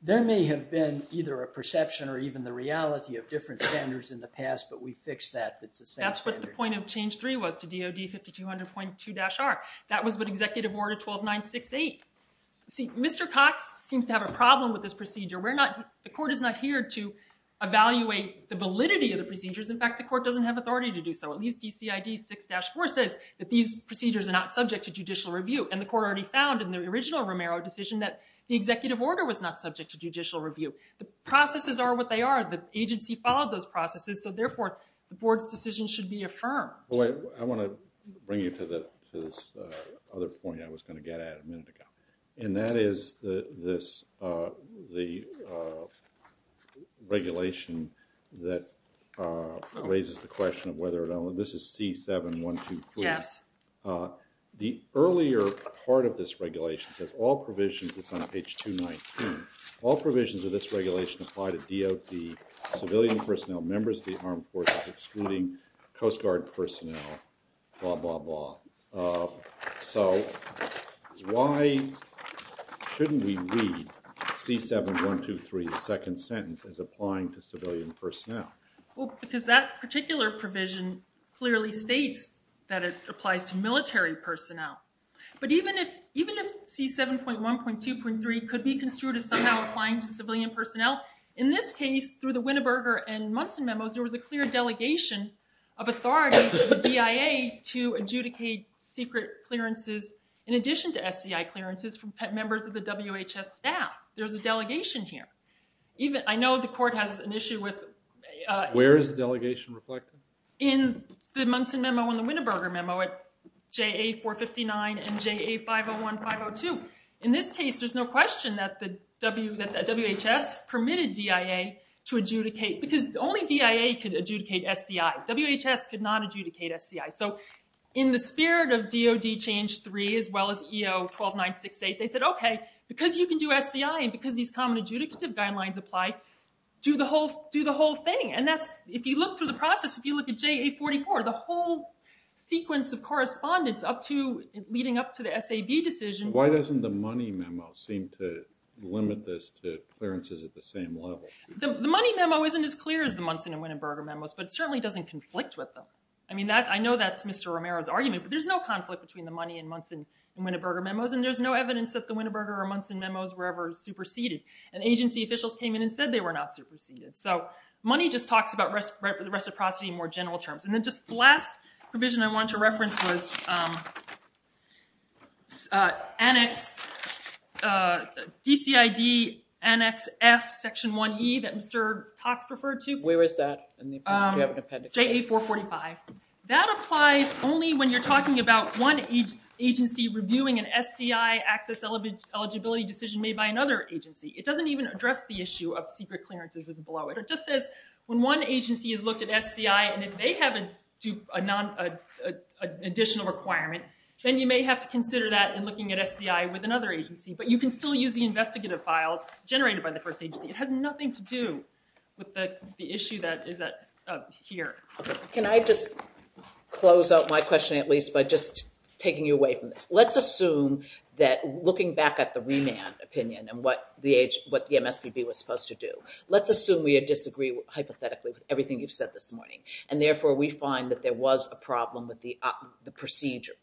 there may have been either a perception or even the reality of different standards in the past, but we fixed that. That's what the point of change three was to DOD 5200.2-R. That was what Executive Order 12968. See, Mr. Cox seems to have a problem with this procedure. The court is not here to evaluate the validity of the procedures. In fact, the court doesn't have authority to do so. At least DCID 6-4 says that these procedures are not subject to judicial review, and the court already found in the original Romero decision that the executive order was not subject to judicial review. The processes are what they are. The agency followed those processes, so therefore, the board's decision should be affirmed. I want to bring you to this other point I was going to get at a minute ago, and that is the regulation that raises the question of whether or not – this is C7-123. Yes. The earlier part of this regulation says all provisions – it's on page 219 – all provisions of this regulation apply to DOD, civilian personnel, members of the armed forces, excluding Coast Guard personnel, blah, blah, blah. So why shouldn't we read C7-123, the second sentence, as applying to civilian personnel? Because that particular provision clearly states that it applies to military personnel. But even if C7.1.2.3 could be construed as somehow applying to civilian personnel, in this case, through the Winneberger and Munson memos, there was a clear delegation of authority to the DIA to adjudicate secret clearances, in addition to SCI clearances, from members of the WHS staff. There's a delegation here. I know the court has an issue with – Where is the delegation reflected? In the Munson memo and the Winneberger memo at JA459 and JA501, 502. In this case, there's no question that the WHS permitted DIA to adjudicate, because only DIA could adjudicate SCI. WHS could not adjudicate SCI. So in the spirit of DOD change three, as well as EO-12968, they said, okay, because you can do SCI, and because these common adjudicative guidelines apply, do the whole thing. And if you look through the process, if you look at JA44, the whole sequence of correspondence leading up to the SAB decision – Why doesn't the money memo seem to limit this to clearances at the same level? The money memo isn't as clear as the Munson and Winneberger memos, but it certainly doesn't conflict with them. I mean, I know that's Mr. Romero's argument, but there's no conflict between the money and Munson and Winneberger memos, and there's no evidence that the Winneberger or Munson memos were ever superseded. And agency officials came in and said they were not superseded. So money just talks about reciprocity in more general terms. And then just the last provision I wanted to reference was DCID Annex F Section 1E that Mr. Cox referred to. Where is that in the appendix? JA445. That applies only when you're talking about one agency reviewing an SCI access eligibility decision made by another agency. It doesn't even address the issue of secret clearances below it. It just says when one agency has looked at SCI and they have an additional requirement, then you may have to consider that in looking at SCI with another agency. But you can still use the investigative files generated by the first agency. It has nothing to do with the issue that is here. Can I just close out my question at least by just taking you away from this? Let's assume that looking back at the remand opinion and what the MSPB was supposed to do, let's assume we disagree hypothetically with everything you've said this morning, and therefore we find that there was a problem with the procedures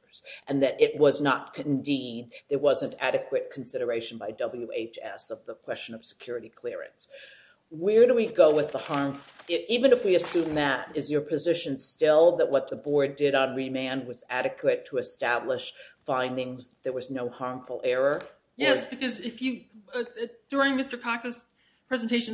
and that it was not, indeed there wasn't adequate consideration by WHS of the question of security clearance. Where do we go with the harm? Even if we assume that, is your position still that what the board did on remand was adequate to establish findings, there was no harmful error? Yes, because during Mr. Cox's presentation,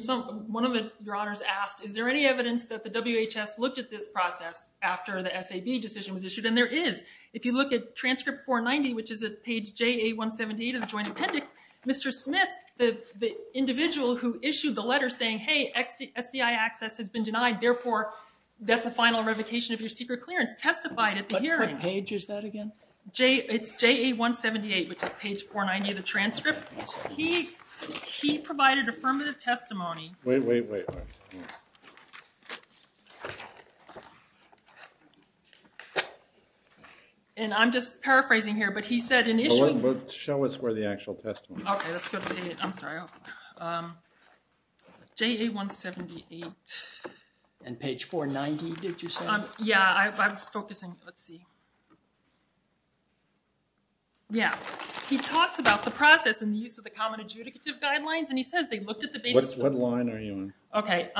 one of your honors asked, is there any evidence that the WHS looked at this process after the SAB decision was issued? And there is. If you look at transcript 490, which is at page JA178 of the joint appendix, Mr. Smith, the individual who issued the letter saying, hey, SCI access has been denied, therefore that's a final revocation of your secret clearance, testified at the hearing. What page is that again? It's JA178, which is page 490 of the transcript. He provided affirmative testimony. Wait, wait, wait. And I'm just paraphrasing here, but he said initially. Show us where the actual testimony is. Okay, that's good. I'm sorry. JA178. And page 490, did you say? Yeah, I was focusing. Let's see. Yeah, he talks about the process and the use of the common adjudicative guidelines, and he says they looked at the basis. What line are you on?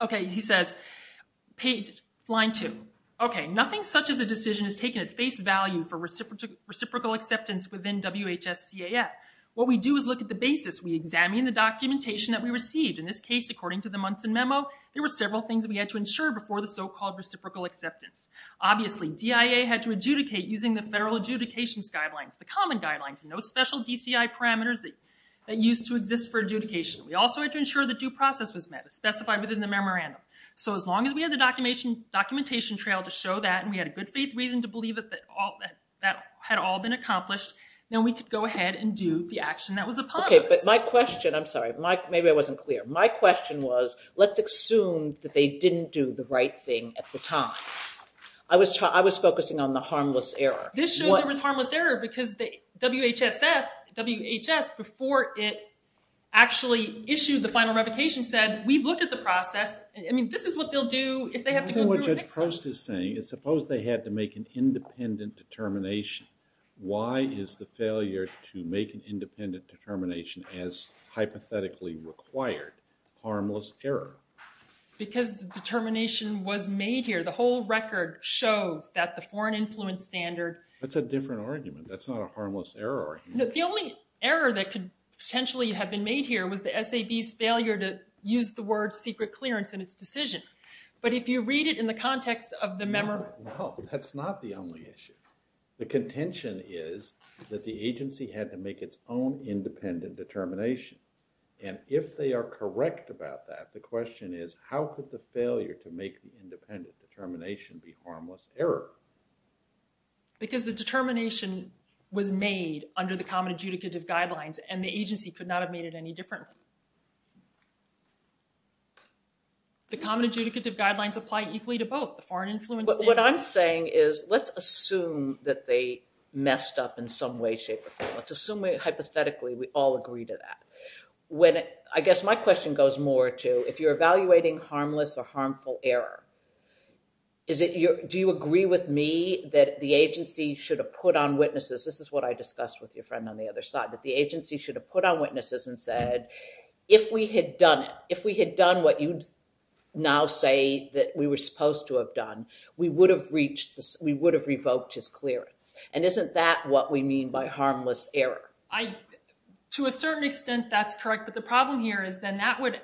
Okay, he says line two. Okay, nothing such as a decision is taken at face value for reciprocal acceptance within WHS-CAF. What we do is look at the basis. We examine the documentation that we received. In this case, according to the Munson memo, there were several things we had to ensure before the so-called reciprocal acceptance. Obviously, DIA had to adjudicate using the federal adjudications guidelines, the common guidelines, no special DCI parameters that used to exist for adjudication. We also had to ensure the due process was met, specified within the memorandum. So as long as we had the documentation trail to show that and we had a good faith reason to believe that that had all been accomplished, then we could go ahead and do the action that was upon us. Okay, but my question, I'm sorry, maybe I wasn't clear. My question was let's assume that they didn't do the right thing at the time. I was focusing on the harmless error. This shows there was harmless error because WHS, before it actually issued the final revocation, said we've looked at the process. I mean this is what they'll do if they have to go through. I think what Judge Prost is saying is suppose they had to make an independent determination. Why is the failure to make an independent determination as hypothetically required harmless error? Because the determination was made here. The whole record shows that the foreign influence standard. That's a different argument. That's not a harmless error argument. The only error that could potentially have been made here was the SAB's failure to use the word secret clearance in its decision. But if you read it in the context of the memorandum. No, that's not the only issue. The contention is that the agency had to make its own independent determination. And if they are correct about that, the question is how could the failure to make an independent determination be harmless error? Because the determination was made under the common adjudicative guidelines and the agency could not have made it any different. The common adjudicative guidelines apply equally to both. What I'm saying is let's assume that they messed up in some way, shape or form. Let's assume that hypothetically we all agree to that. I guess my question goes more to if you're evaluating harmless or harmful error, do you agree with me that the agency should have put on witnesses, this is what I discussed with your friend on the other side, that the agency should have put on witnesses and said if we had done it, if we had done what you now say that we were supposed to have done, we would have revoked his clearance? And isn't that what we mean by harmless error? To a certain extent, that's correct. But the problem here is then that would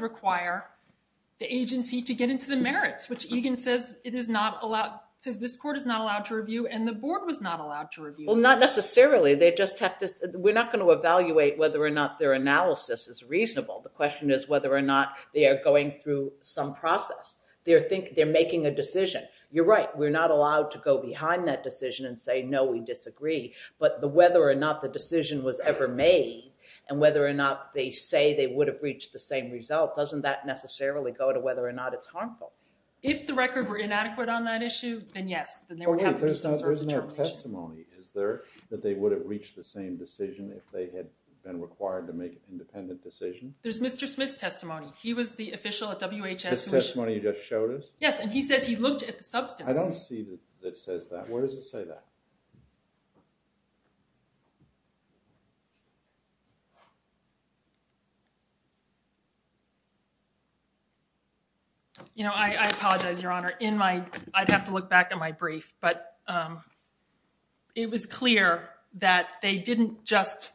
require the agency to get into the merits, which Egan says this court is not allowed to review and the board was not allowed to review. Well, not necessarily. We're not going to evaluate whether or not their analysis is reasonable. The question is whether or not they are going through some process. They're making a decision. You're right. We're not allowed to go behind that decision and say no, we disagree. But whether or not the decision was ever made and whether or not they say they would have reached the same result, doesn't that necessarily go to whether or not it's harmful? If the record were inadequate on that issue, then yes. Then there would have to be some sort of determination. There isn't a testimony. Is there that they would have reached the same decision if they had been required to make an independent decision? There's Mr. Smith's testimony. He was the official at WHS. The testimony you just showed us? Yes, and he says he looked at the substance. I don't see that it says that. Where does it say that? You know, I apologize, Your Honor. I'd have to look back at my brief. But it was clear that they didn't just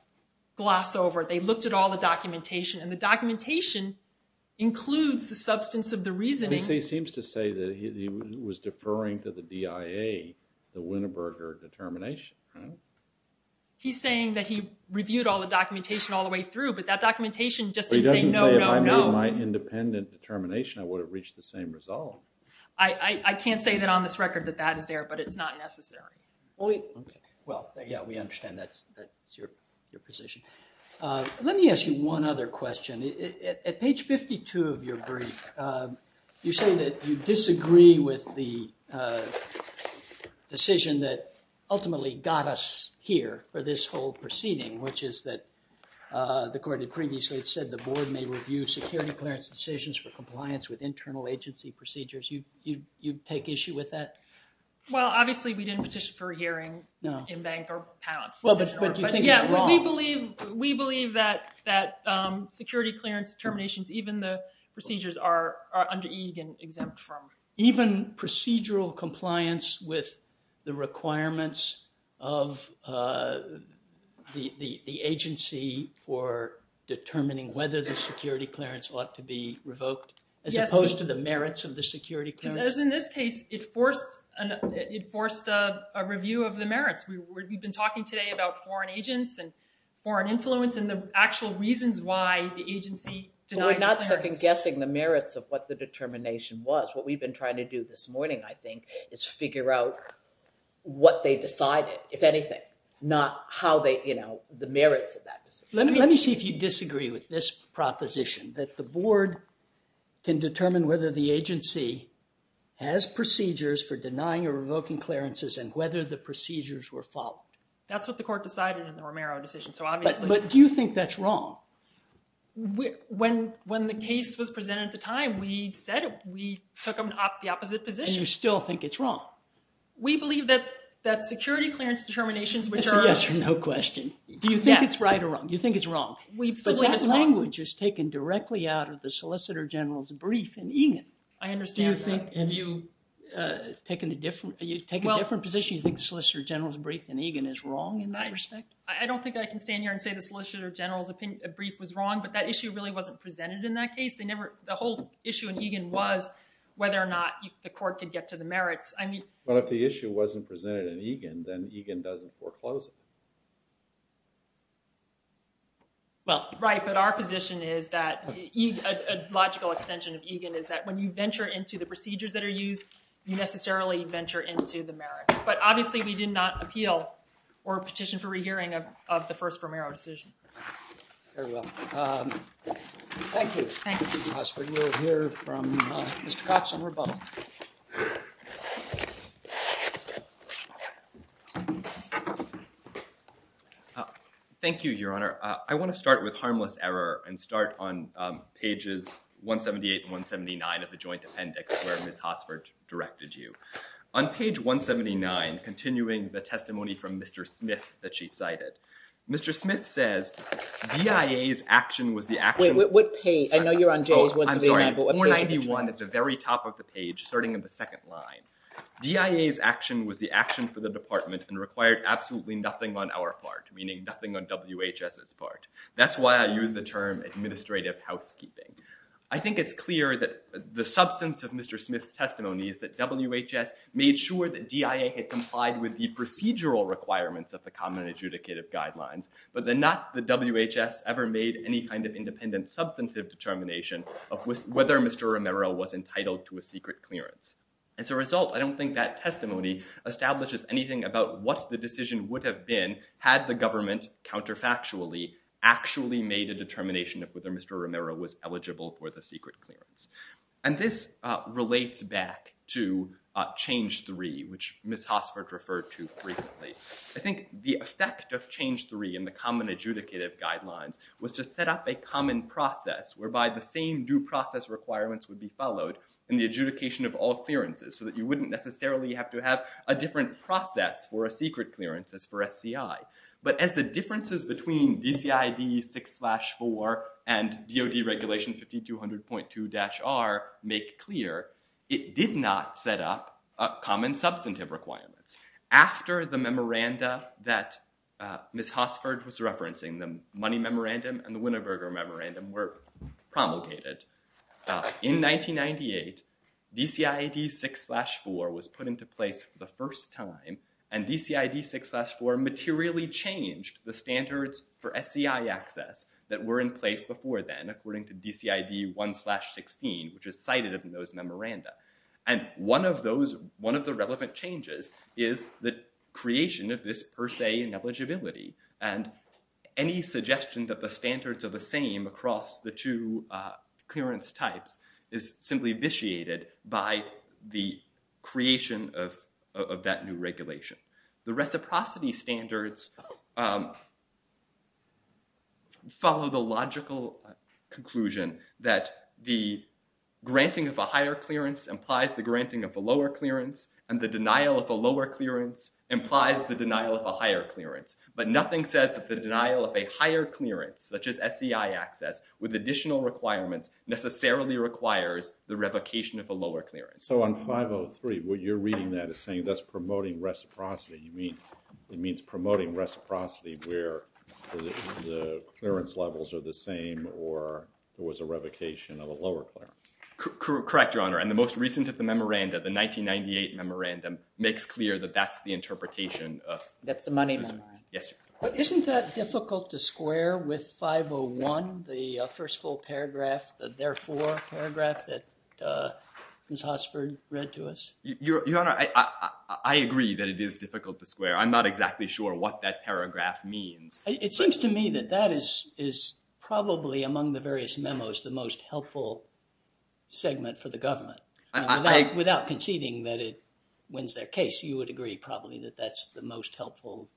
gloss over. They looked at all the documentation. And the documentation includes the substance of the reasoning. But he seems to say that he was deferring to the DIA, the Winneberger determination, right? He's saying that he reviewed all the documentation all the way through, but that documentation just didn't say no, no, no. But he doesn't say if I made my independent determination, I would have reached the same result. I can't say that on this record that that is there, but it's not necessary. Well, yeah, we understand that's your position. Let me ask you one other question. At page 52 of your brief, you say that you disagree with the decision that ultimately got us here for this whole proceeding, which is that the court had previously said the board may review security clearance decisions for compliance with internal agency procedures. You take issue with that? Well, obviously, we didn't petition for a hearing in bank or pound. Well, but do you think it's wrong? Yeah, we believe that security clearance terminations, even the procedures, are under EEG and exempt from. Even procedural compliance with the requirements of the agency for determining whether the security clearance ought to be revoked, as opposed to the merits of the security clearance? As in this case, it forced a review of the merits. We've been talking today about foreign agents and foreign influence and the actual reasons why the agency denied the clearance. Well, we're not second-guessing the merits of what the determination was. What we've been trying to do this morning, I think, is figure out what they decided, if anything, not the merits of that decision. Let me see if you disagree with this proposition, that the board can determine whether the agency has procedures for denying or revoking clearances and whether the procedures were followed. That's what the court decided in the Romero decision. But do you think that's wrong? When the case was presented at the time, we said we took the opposite position. And you still think it's wrong? We believe that security clearance determinations, which are— It's a yes or no question. Do you think it's right or wrong? You think it's wrong. We believe it's wrong. But that language is taken directly out of the solicitor general's brief in Egan. I understand that. And you take a different position? You think the solicitor general's brief in Egan is wrong in that respect? I don't think I can stand here and say the solicitor general's brief was wrong, but that issue really wasn't presented in that case. The whole issue in Egan was whether or not the court could get to the merits. But if the issue wasn't presented in Egan, then Egan doesn't foreclose it. Well, right, but our position is that— a logical extension of Egan is that when you venture into the procedures that are used, you necessarily venture into the merits. But obviously we did not appeal or petition for rehearing of the first Romero decision. Very well. Thank you. Thank you. Mr. Hotsford, we'll hear from Mr. Cox on rebuttal. Thank you, Your Honor. I want to start with harmless error and start on pages 178 and 179 of the joint appendix where Ms. Hotsford directed you. On page 179, continuing the testimony from Mr. Smith that she cited, Mr. Smith says, DIA's action was the action— Wait, what page? I know you're on page 179. Oh, I'm sorry. 491 is the very top of the page, starting in the second line. DIA's action was the action for the Department and required absolutely nothing on our part, meaning nothing on WHS's part. That's why I use the term administrative housekeeping. I think it's clear that the substance of Mr. Smith's testimony is that WHS made sure that DIA had complied with the procedural requirements of the common adjudicative guidelines, but that not the WHS ever made any kind of independent substantive determination of whether Mr. Romero was entitled to a secret clearance. As a result, I don't think that testimony establishes anything about what the decision would have been had the government counterfactually actually made a determination of whether Mr. Romero was eligible for the secret clearance. And this relates back to change three, which Ms. Hotsford referred to frequently. I think the effect of change three in the common adjudicative guidelines was to set up a common process whereby the same due process requirements would be followed in the adjudication of all clearances so that you wouldn't necessarily have to have a different process for a secret clearance as for SCI. But as the differences between DCID 6-4 and DOD Regulation 5200.2-R make clear, it did not set up common substantive requirements. After the memoranda that Ms. Hotsford was referencing, the Money Memorandum and the Winneberger Memorandum were promulgated, in 1998, DCID 6-4 was put into place for the first time, and DCID 6-4 materially changed the standards for SCI access that were in place before then, according to DCID 1-16, which is cited in those memoranda. And one of the relevant changes is the creation of this per se ineligibility. And any suggestion that the standards are the same across the two clearance types is simply vitiated by the creation of that new regulation. The reciprocity standards follow the logical conclusion that the granting of a higher clearance implies the granting of a lower clearance, and the denial of a lower clearance implies the denial of a higher clearance. But nothing says that the denial of a higher clearance, such as SCI access, with additional requirements necessarily requires the revocation of a lower clearance. So on 503, what you're reading there is saying that's promoting reciprocity. You mean, it means promoting reciprocity where the clearance levels are the same or there was a revocation of a lower clearance. Correct, Your Honor. And the most recent of the memoranda, the 1998 memorandum, makes clear that that's the interpretation of... That's the Money Memorandum. Yes, Your Honor. Isn't that difficult to square with 501, the first full paragraph, the therefore paragraph that Ms. Hossford read to us? Your Honor, I agree that it is difficult to square. I'm not exactly sure what that paragraph means. It seems to me that that is probably among the various memos the most helpful segment for the government. Without conceding that it wins their case, you would agree probably that that's the most helpful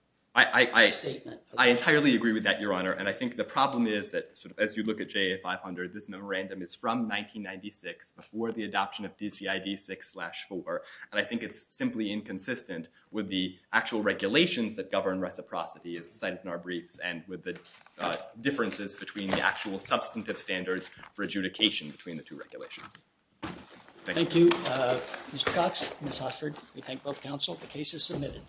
statement. I entirely agree with that, Your Honor. And I think the problem is that as you look at JA 500, this memorandum is from 1996 before the adoption of DCID 6-4, and I think it's simply inconsistent with the actual regulations that govern reciprocity as cited in our briefs and with the differences between the actual substantive standards for adjudication between the two regulations. Thank you. Thank you, Mr. Cox, Ms. Hossford. We thank both counsel. The case is submitted.